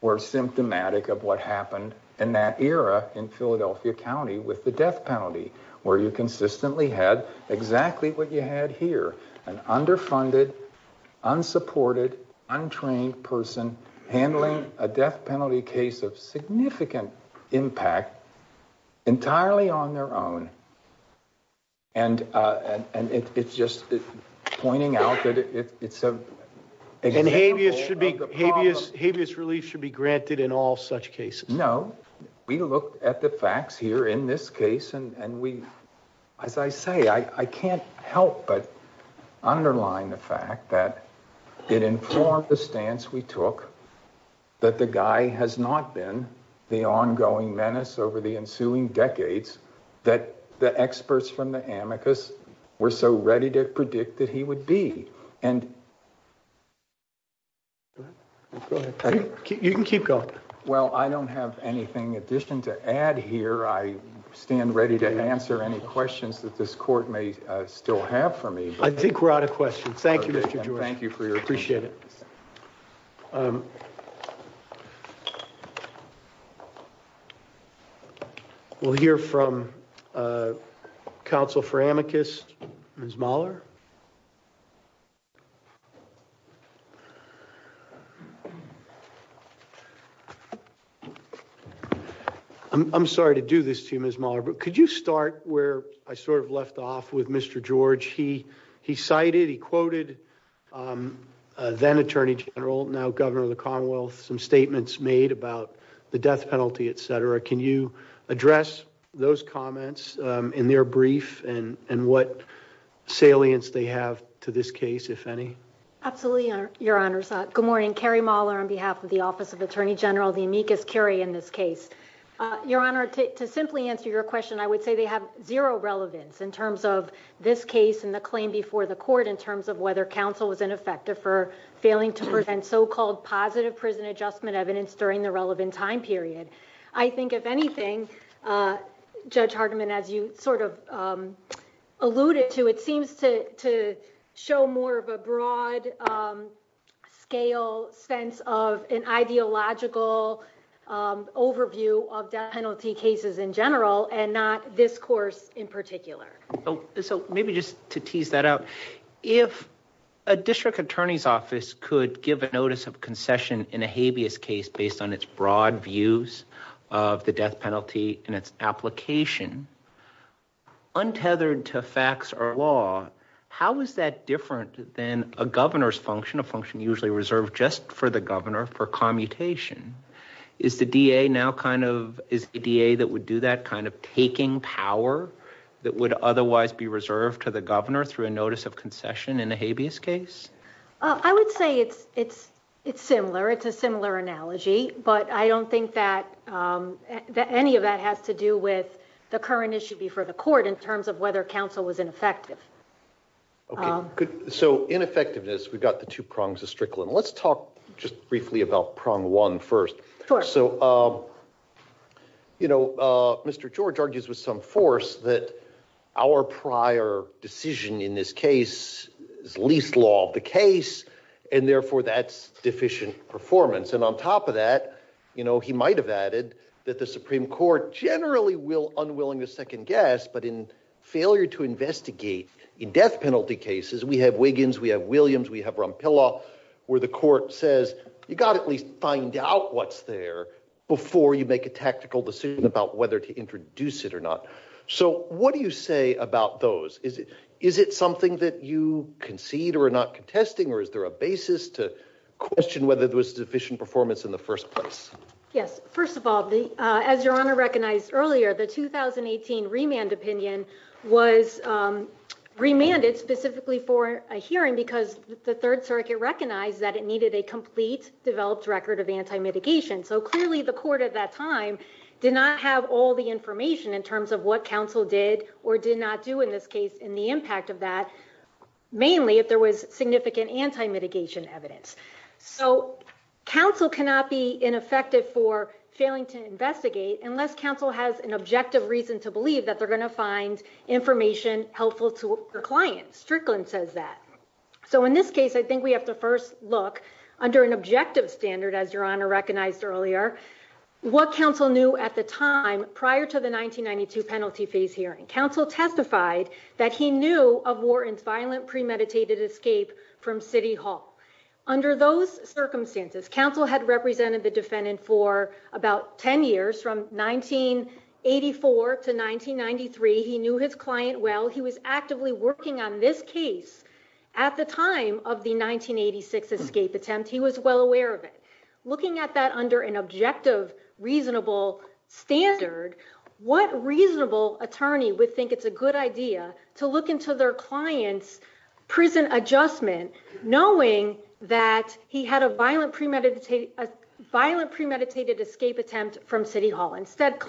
were symptomatic of what happened in that era in Philadelphia County with the death penalty, where you consistently had exactly what you had here, an underfunded, unsupported, untrained person handling a death penalty case of significant impact entirely on their own, and it's just pointing out that it's a... And habeas should be... Habeas relief should be granted in all such cases. No. We looked at the facts here in this case, and we... As I say, I can't help but underline the fact that it informed the stance we took that the guy has not been the ongoing menace over the ensuing decades that the experts from the amicus were so ready to predict that he would be. And... You can keep going. Well, I don't have anything in addition to add here. I stand ready to answer any questions that this court may still have for me. I think we're out of questions. Thank you, Mr. Joyce. Thank you for your attention. Appreciate it. We'll hear from counsel for amicus, Ms. Mahler. I'm sorry to do this to you, Ms. Mahler, but could you start where I sort of left off with Mr. George? He cited, he quoted then Attorney General, now Governor of the Conwell, some statements made about the death penalty, et cetera. Can you address those comments in their brief and what salience they have to this case, if any? Absolutely, Your Honor. Good morning. I'm Keri Mahler on behalf of the Office of Attorney General the amicus carry in this case. Your Honor, to simply answer your question, I would say they have zero relevance in terms of this case and the claim before the court in terms of whether counsel was ineffective for failing to present so-called positive prison adjustment evidence during the relevant time period. I think if anything, Judge Hardiman, as you sort of alluded to, it seems to show more of a broad scale sense of an ideological overview of death penalty cases in general and not this course in particular. So maybe just to tease that out, if a district attorney's office could give a notice of concession in a habeas case based on its broad views of the death penalty and its application, untethered to facts or law, how is that different than a governor's function, a function usually reserved just for the governor for commutation? Is the DA now kind of, is the DA that would do that kind of taking power that would otherwise be reserved to the governor through a notice of concession in a habeas case? I would say it's similar. It's a similar analogy, but I don't think that any of that has to do with the current issue before the court in terms of whether counsel was ineffective. Okay, good. So ineffectiveness, we've got the two prongs of Strickland. Let's talk just briefly about prong one first. So, you know, Mr. George argues with some force that our prior decision in this case is least law of the case and therefore that's deficient performance. And on top of that, you know, he might've added that the Supreme Court generally will unwilling to second guess, but in failure to investigate in death penalty cases, we have Wiggins, we have Williams, we have Rompillo where the court says, you gotta at least find out what's there before you make a tactical decision about whether to introduce it or not. So what do you say about those? Is it something that you concede or are not contesting or is there a basis to question whether there was sufficient performance in the first place? Yes, first of all, as your honor recognized earlier, the 2018 remand opinion was remanded specifically for a hearing because the third circuit recognized that it needed a complete developed record of anti-mitigation. So clearly the court at that time did not have all the information in terms of what counsel did or did not do in this case in the impact of that, mainly if there was significant anti-mitigation evidence. So counsel cannot be ineffective for failing to investigate unless counsel has an objective reason to believe that they're gonna find information helpful to the client. Strickland says that. So in this case, I think we have to first look under an objective standard as your honor recognized earlier, what counsel knew at the time prior to the 1992 penalty phase hearing. Counsel testified that he knew of war and violent premeditated escape from city hall. Under those circumstances, counsel had represented the defendant for about 10 years from 1984 to 1993. He knew his client well. He was actively working on this case at the time of the 1986 escape attempt. He was well aware of it. Looking at that under an objective, reasonable standard, what reasonable attorney would think it's a good idea to look into their client's prison adjustment knowing that he had a violent premeditated escape attempt from city hall. Instead,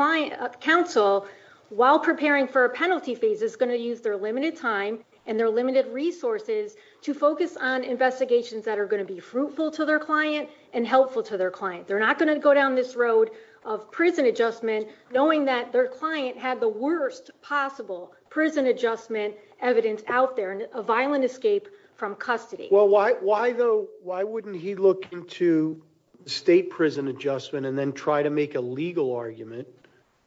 counsel, while preparing for a penalty phase, is gonna use their limited time and their limited resources to focus on investigations that are gonna be fruitful to their client and helpful to their client. They're not gonna go down this road of prison adjustment knowing that their client had the worst possible prison adjustment evidence out there, a violent escape from custody. Well, why wouldn't he look into state prison adjustment and then try to make a legal argument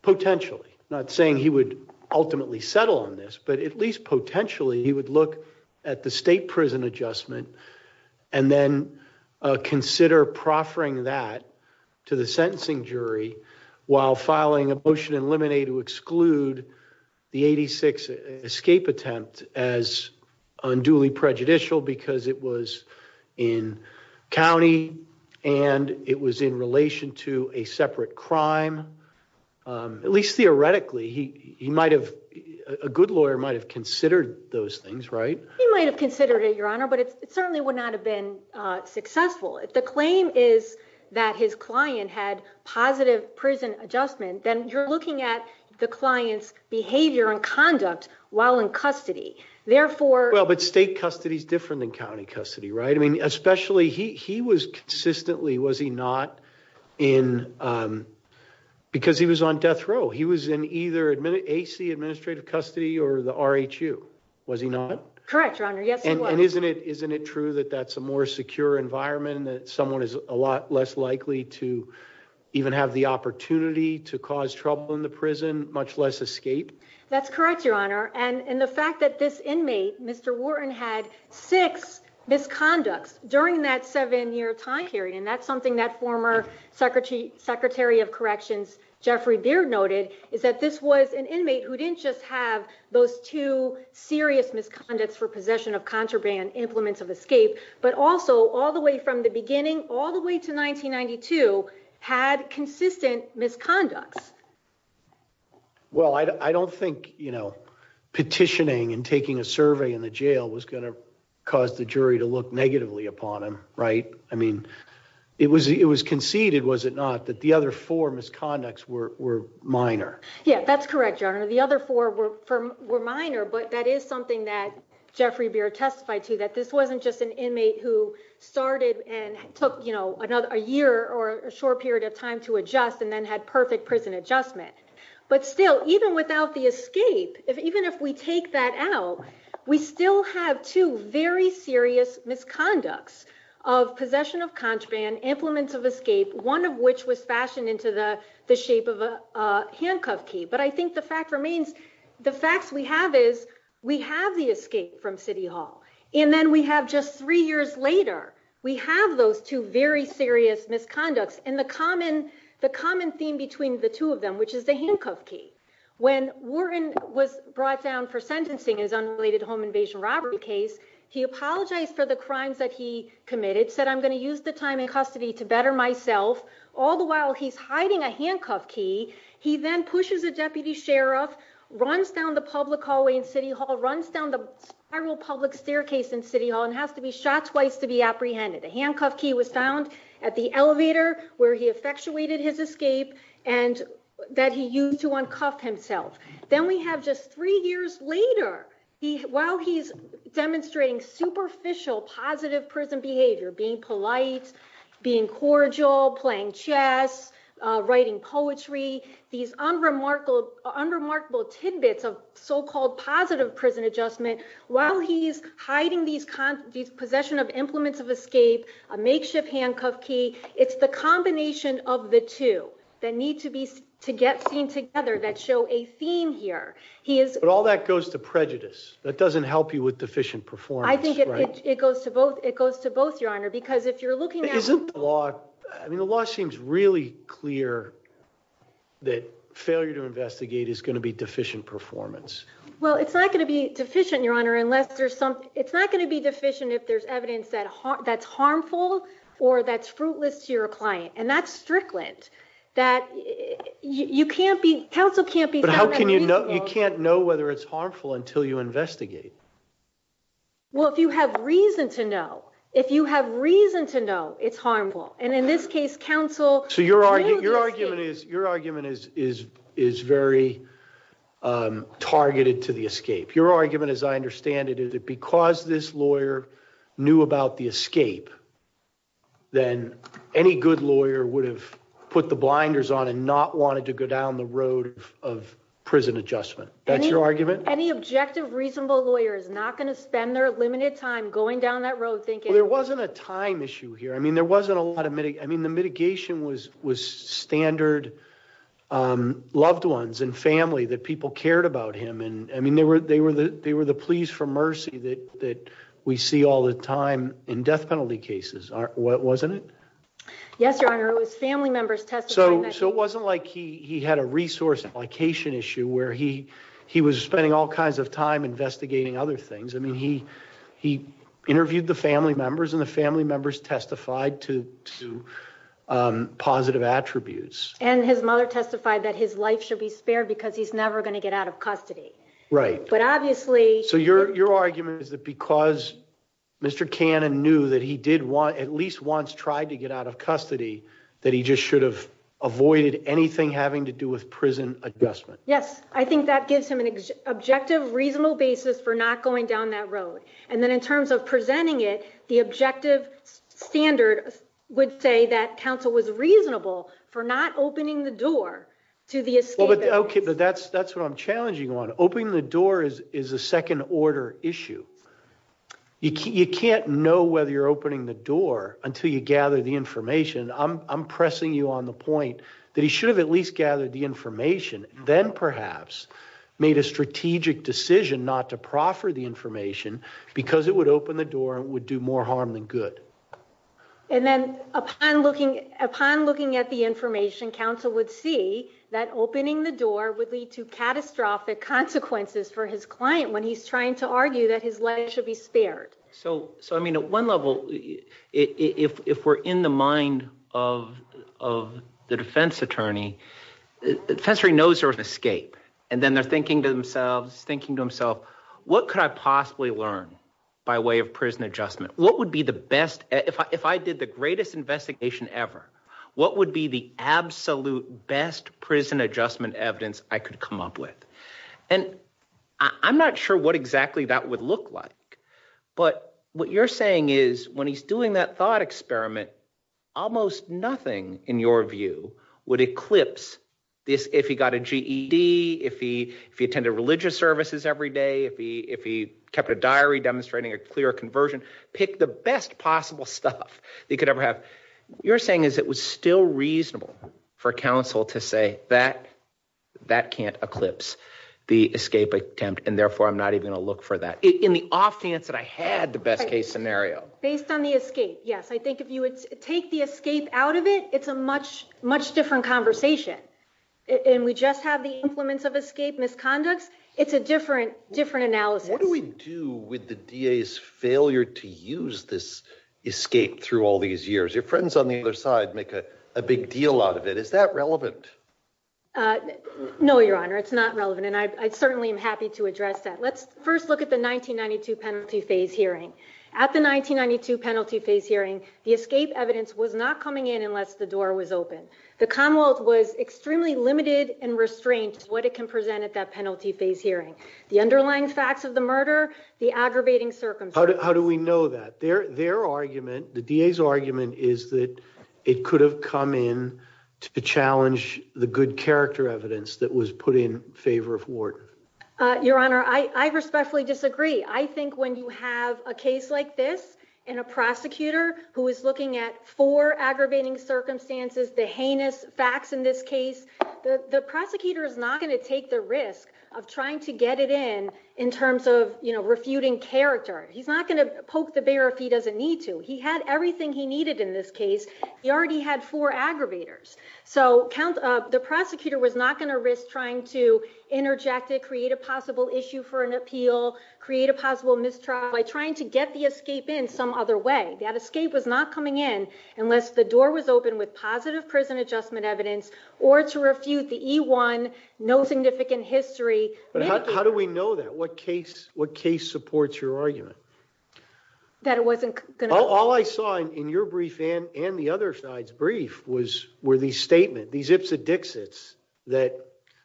potentially? Not saying he would ultimately settle on this, but at least potentially he would look at the state prison adjustment and then consider proffering that to the sentencing jury while filing a motion in limine to exclude the 86 escape attempt as unduly prejudicial because it was in county and it was in relation to a separate crime. At least theoretically, he might have, a good lawyer might have considered those things, right? He might have considered it, your honor, but it certainly would not have been successful. If the claim is that his client had positive prison adjustment, then you're looking at the client's behavior and conduct while in custody. Therefore- Well, but state custody is different than county custody, right? I mean, especially he was consistently, was he not in, because he was on death row. He was in either AC Administrative Custody or the RHU. Was he not? Correct, your honor, yes he was. And isn't it true that that's a more secure environment that someone is a lot less likely to even have the opportunity to cause trouble in the prison, much less escape? That's correct, your honor. And the fact that this inmate, Mr. Wharton, had six misconducts during that seven-year time period, and that's something that former Secretary of Corrections, Jeffrey Deer noted, is that this was an inmate who didn't just have those two serious misconducts for possession of contraband, implements of escape, but also all the way from the beginning, all the way to 1992, had consistent misconduct. Well, I don't think petitioning and taking a survey in the jail was gonna cause the jury to look negatively upon him, right? I mean, it was conceded, was it not, that the other four misconducts were minor? Yeah, that's correct, your honor. The other four were minor, but that is something that Jeffrey Deer testified to, that this wasn't just an inmate who started and took a year or a short period of time to adjust and then had perfect prison adjustment. But still, even without the escape, even if we take that out, we still have two very serious misconducts of possession of contraband, implements of escape, one of which was fashioned into the shape of a handcuff key. But I think the fact remains, the fact we have is we have the escape from City Hall, and then we have just three years later, we have those two very serious misconducts, and the common theme between the two of them, which is the handcuff key. When Warren was brought down for sentencing in his unrelated home invasion robbery case, he apologized for the crimes that he committed, said, I'm gonna use the time in custody to better myself, all the while he's hiding a handcuff key. He then pushes a deputy sheriff, runs down the public hallway in City Hall, runs down the general public staircase in City Hall, and has to be shot twice to be apprehended. The handcuff key was found at the elevator where he effectuated his escape, and that he used to uncuff himself. Then we have just three years later, while he's demonstrating superficial positive prison behavior, being polite, being cordial, playing chess, writing poetry, these unremarkable tidbits of so-called positive prison adjustment, while he's hiding these possession of implements of escape, a makeshift handcuff key, it's the combination of the two that need to get seen together, that show a theme here. But all that goes to prejudice. That doesn't help you with deficient performance. I think it goes to both, it goes to both, your honor, because if you're looking at- Isn't the law, I mean, the law seems really clear that failure to investigate is gonna be deficient performance. Well, it's not gonna be deficient, your honor, unless there's some, it's not gonna be deficient if there's evidence that's harmful or that's fruitless to your client, and that's strickland, that you can't be, counsel can't be- But how can you know, you can't know whether it's harmful until you investigate? Well, if you have reason to know, if you have reason to know it's harmful, and in this case, counsel- So your argument is very targeted to the escape. Your argument, as I understand it, is that because this lawyer knew about the escape, then any good lawyer would have put the blinders on and not wanted to go down the road of prison adjustment. That's your argument? Any objective, reasonable lawyer is not gonna spend their limited time going down that road thinking- Well, there wasn't a time issue here. I mean, there wasn't a lot of, I mean, the mitigation was standard, loved ones and family, that people cared about him, and I mean, they were the pleas for mercy that we see all the time in death penalty cases, wasn't it? Yes, Your Honor, it was family members testifying- So it wasn't like he had a resource application issue where he was spending all kinds of time investigating other things. I mean, he interviewed the family members and the family members testified to positive attributes. And his mother testified that his life should be spared because he's never gonna get out of custody. Right. But obviously- So your argument is that because Mr. Cannon knew that he did want, at least once tried to get out of custody, that he just should have avoided anything having to do with prison adjustment. Yes, I think that gives him an objective, reasonable basis for not going down that road. And then in terms of presenting it, the objective standard would say that counsel was reasonable for not opening the door to the escape. Okay, but that's what I'm challenging on. Opening the door is a second order issue. You can't know whether you're opening the door until you gather the information. I'm pressing you on the point that he should have at least gathered the information, then perhaps made a strategic decision not to proffer the information because it would open the door and would do more harm than good. And then upon looking at the information, counsel would see that opening the door would lead to catastrophic consequences for his client when he's trying to argue that his life should be spared. So, I mean, at one level, if we're in the mind of the defense attorney, the attorney knows there's an escape. And then they're thinking to themselves, thinking to themselves, what could I possibly learn by way of prison adjustment? What would be the best, if I did the greatest investigation ever, what would be the absolute best prison adjustment evidence I could come up with? And I'm not sure what exactly that would look like, but what you're saying is when he's doing that thought experiment, almost nothing in your view would eclipse this, if he got a GED, if he attended religious services every day, if he kept a diary demonstrating a clear conversion, pick the best possible stuff he could ever have. You're saying is it was still reasonable for counsel to say that, that can't eclipse the escape attempt. And therefore I'm not even gonna look for that. In the off chance that I had the best case scenario. Based on the escape, yes. I think if you would take the escape out of it, it's a much, much different conversation. And we just have the implements of escape misconduct. It's a different analysis. What do we do with the DA's failure to use this escape through all these years? Your friends on the other side make a big deal out of it. Is that relevant? No, your honor, it's not relevant. And I certainly am happy to address that. Let's first look at the 1992 penalty phase hearing. At the 1992 penalty phase hearing, the escape evidence was not coming in unless the door was open. The Commonwealth was extremely limited and restrained what it can present at that penalty phase hearing. The underlying facts of the murder, the aggravating circumstances. How do we know that? Their argument, the DA's argument, is that it could have come in to challenge the good character evidence that was put in favor of Ward. Your honor, I respectfully disagree. I think when you have a case like this and a prosecutor who is looking at four aggravating circumstances, the heinous facts in this case, the prosecutor is not gonna take the risk of trying to get it in in terms of refuting character. He's not gonna poke the bear if he doesn't need to. He had everything he needed in this case. He already had four aggravators. So the prosecutor was not gonna risk trying to interject it, create a possible issue for an appeal, create a possible mistrial by trying to get the escape in some other way. That escape was not coming in unless the door was open with positive prison adjustment evidence or to refute the E1, no significant history. How do we know that? What case supports your argument? That it wasn't- All I saw in your brief and the other side's brief were these statements, these ifs and dixits that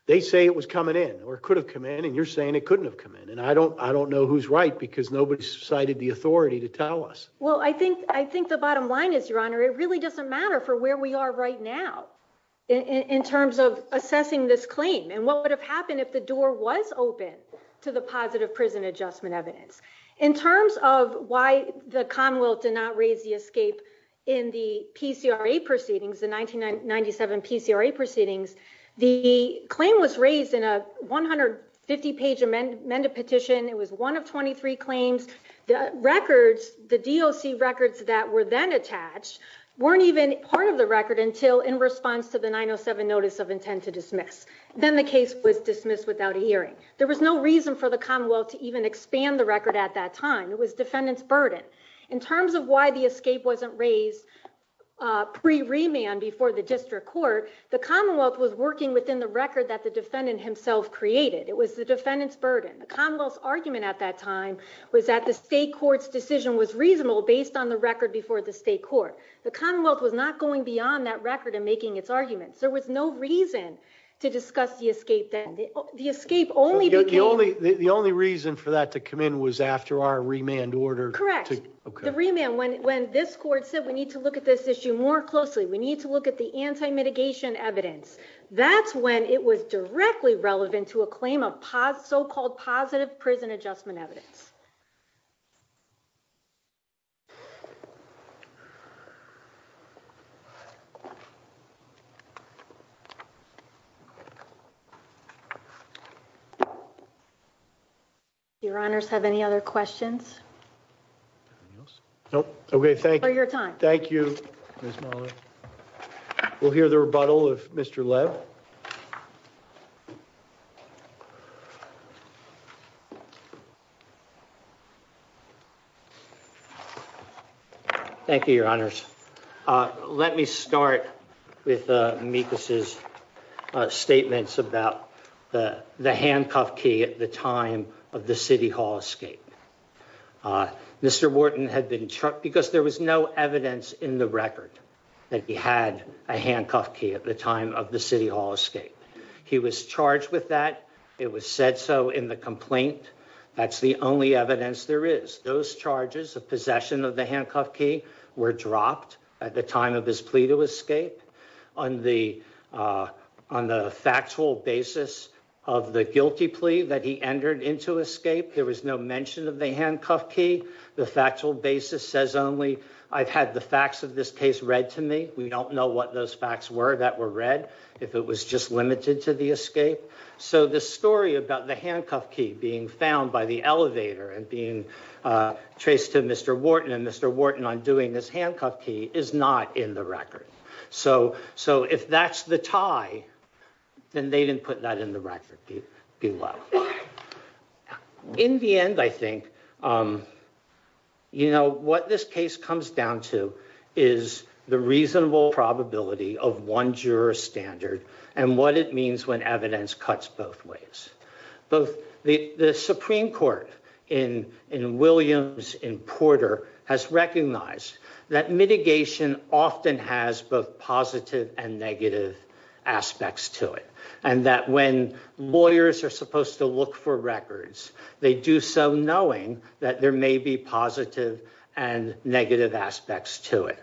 they say it was coming in or it could have come in and you're saying it couldn't have come in. And I don't know who's right because nobody cited the authority to tell us. Well, I think the bottom line is, your honor, it really doesn't matter for where we are right now in terms of assessing this claim and what would have happened if the door was open to the positive prison adjustment evidence. In terms of why the Commonwealth did not raise the escape in the PCRA proceedings, the 1997 PCRA proceedings, the claim was raised in a 150 page amended petition. It was one of 23 claims. The records, the DOC records that were then attached weren't even part of the record until in response to the 907 notice of intent to dismiss. Then the case was dismissed without a hearing. There was no reason for the Commonwealth to even expand the record at that time. It was defendant's burden. In terms of why the escape wasn't raised pre-remand before the district court, the Commonwealth was working within the record that the defendant himself created. It was the defendant's burden. The Commonwealth's argument at that time was that the state court's decision was reasonable based on the record before the state court. The Commonwealth was not going beyond that record in making its arguments. There was no reason to discuss the escape then. The escape only became- The only reason for that to come in was after our remand order. Correct. The remand, when this court said, we need to look at this issue more closely. We need to look at the anti-mitigation evidence. That's when it was directly relevant to a claim of so-called positive prison adjustment evidence. Thank you. Your honors, have any other questions? Nope. Okay, thank you. For your time. Thank you, Ms. Muller. We'll hear the rebuttal of Mr. Lev. Thank you, your honors. Let me start with Mekas' statements about the handcuff key at the time of the city hall escape. Mr. Wharton had been charged, because there was no evidence in the record that he had a handcuff key at the time of the city hall escape. He was charged with that. It was said so in the complaint. That's the only evidence there is. Those charges of possession of the handcuff key were dropped at the time of his plea to escape. On the factual basis of the guilty plea that he entered into escape, there was no mention of the handcuff key. The factual basis says only, I've had the facts of this case read to me. We don't know what those facts were that were read, if it was just limited to the escape. So the story about the handcuff key being found by the elevator and being traced to Mr. Wharton, and Mr. Wharton undoing this handcuff key, is not in the record. So if that's the tie, then they didn't put that in the record, be well. In the end, I think, what this case comes down to is the reasonable probability of one juror standard, and what it means when evidence cuts both ways. Both the Supreme Court in Williams and Porter has recognized that mitigation often has both positive and negative aspects to it. And that when lawyers are supposed to look for records, they do so knowing that there may be positive and negative aspects to it.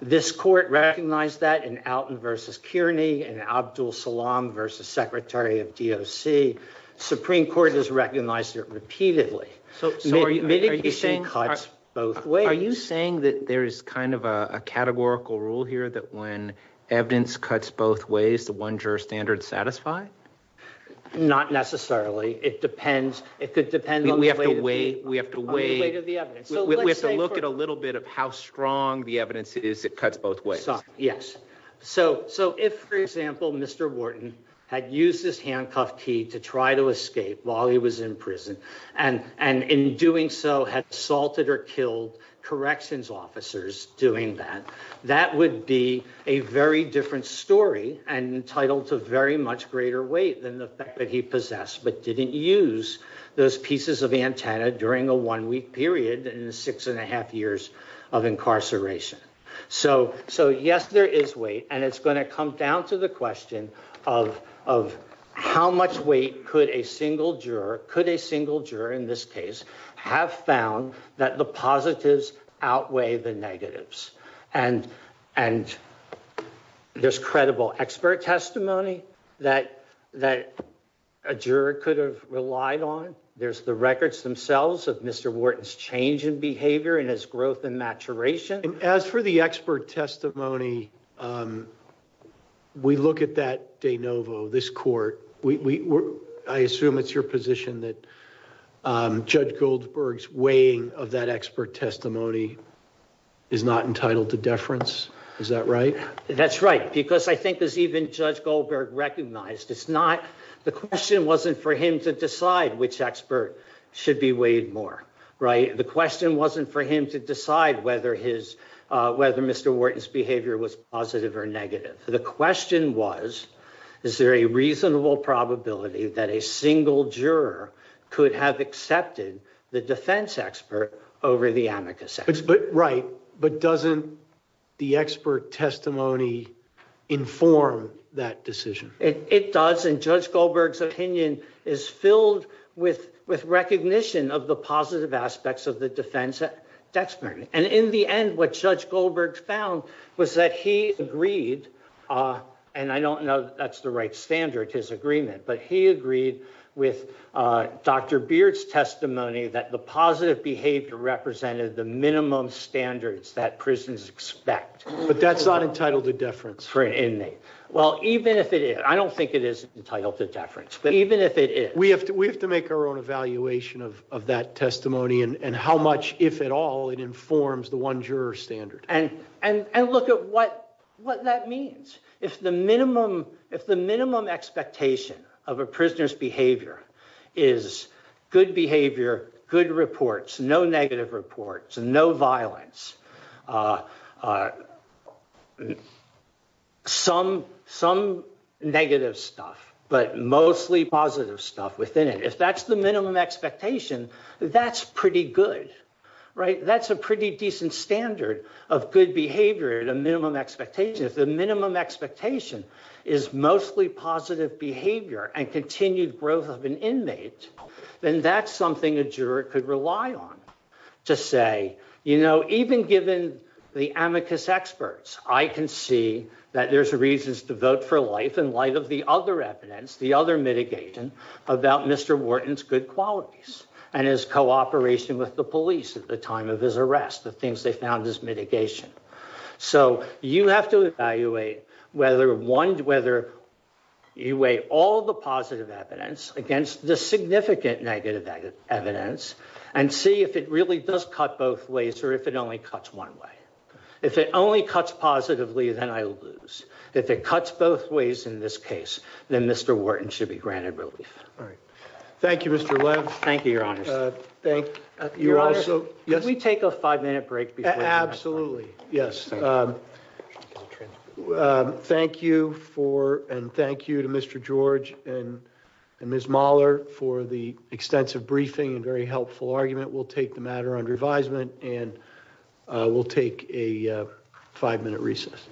This court recognized that in Alton versus Kearney, and Abdul Salaam versus Secretary of DOC. Supreme Court has recognized it repeatedly. So mitigation cuts both ways. Are you saying that there's kind of a categorical rule here that when evidence cuts both ways, the one juror standard's satisfied? Not necessarily. It depends. It could depend on the weight of the evidence. We have to look at a little bit of how strong the evidence is that cuts both ways. Yes. So if, for example, Mr. Wharton had used this handcuff key to try to escape while he was in prison, and in doing so had assaulted or killed corrections officers doing that, that would be a very different story and entitled to very much greater weight than the fact that he possessed, but didn't use those pieces of antenna during a one-week period in the six and a half years of incarceration. So yes, there is weight, and it's gonna come down to the question of how much weight could a single juror, could a single juror in this case, have found that the positives outweigh the negatives? And there's credible expert testimony that a juror could have relied on. There's the records themselves of Mr. Wharton's change in behavior and his growth and maturation. As for the expert testimony, we look at that de novo, this court. I assume it's your position that Judge Goldberg's weighing of that expert testimony is not entitled to deference, is that right? That's right, because I think there's even Judge Goldberg recognized it's not, the question wasn't for him to decide which expert should be weighed more, right? The question wasn't for him to decide whether Mr. Wharton's behavior was positive or negative. The question was, is there a reasonable probability that a single juror could have accepted the defense expert over the amicus expert? Right, but doesn't the expert testimony inform that decision? It does, and Judge Goldberg's opinion is filled with recognition of the positive aspects of the defense expert. And in the end, what Judge Goldberg found was that he agreed, and I don't know if that's the right standard, his agreement, but he agreed with Dr. Beard's testimony that the positive behavior represented the minimum standards that prisons expect. But that's not entitled to deference for an inmate. Well, even if it is, I don't think it is entitled to deference, but even if it is. We have to make our own evaluation of that testimony and how much, if at all, it informs the one juror's standard. And look at what that means. If the minimum expectation of a prisoner's behavior is good behavior, good reports, no negative reports, no violence, some negative stuff, but mostly positive stuff within it, if that's the minimum expectation, that's pretty good. Right, that's a pretty decent standard of good behavior, the minimum expectation. If the minimum expectation is mostly positive behavior and continued growth of an inmate, then that's something a juror could rely on, to say, you know, even given the amicus experts, I can see that there's reasons to vote for life in light of the other evidence, the other mitigating, about Mr. Wharton's good qualities and his cooperation with the police at the time of his arrest, the things they found as mitigation. So you have to evaluate whether one, whether you weigh all the positive evidence against the significant negative evidence and see if it really does cut both ways or if it only cuts one way. If it only cuts positively, then I lose. If it cuts both ways in this case, then Mr. Wharton should be granted relief. All right, thank you, Mr. Webb. Thank you, Your Honor. Thank you, Your Honor. Can we take a five-minute break before we go? Absolutely, yes. Thank you for, and thank you to Mr. George and Ms. Mahler for the extensive briefing and very helpful argument. We'll take the matter under advisement, and we'll take a five-minute recess.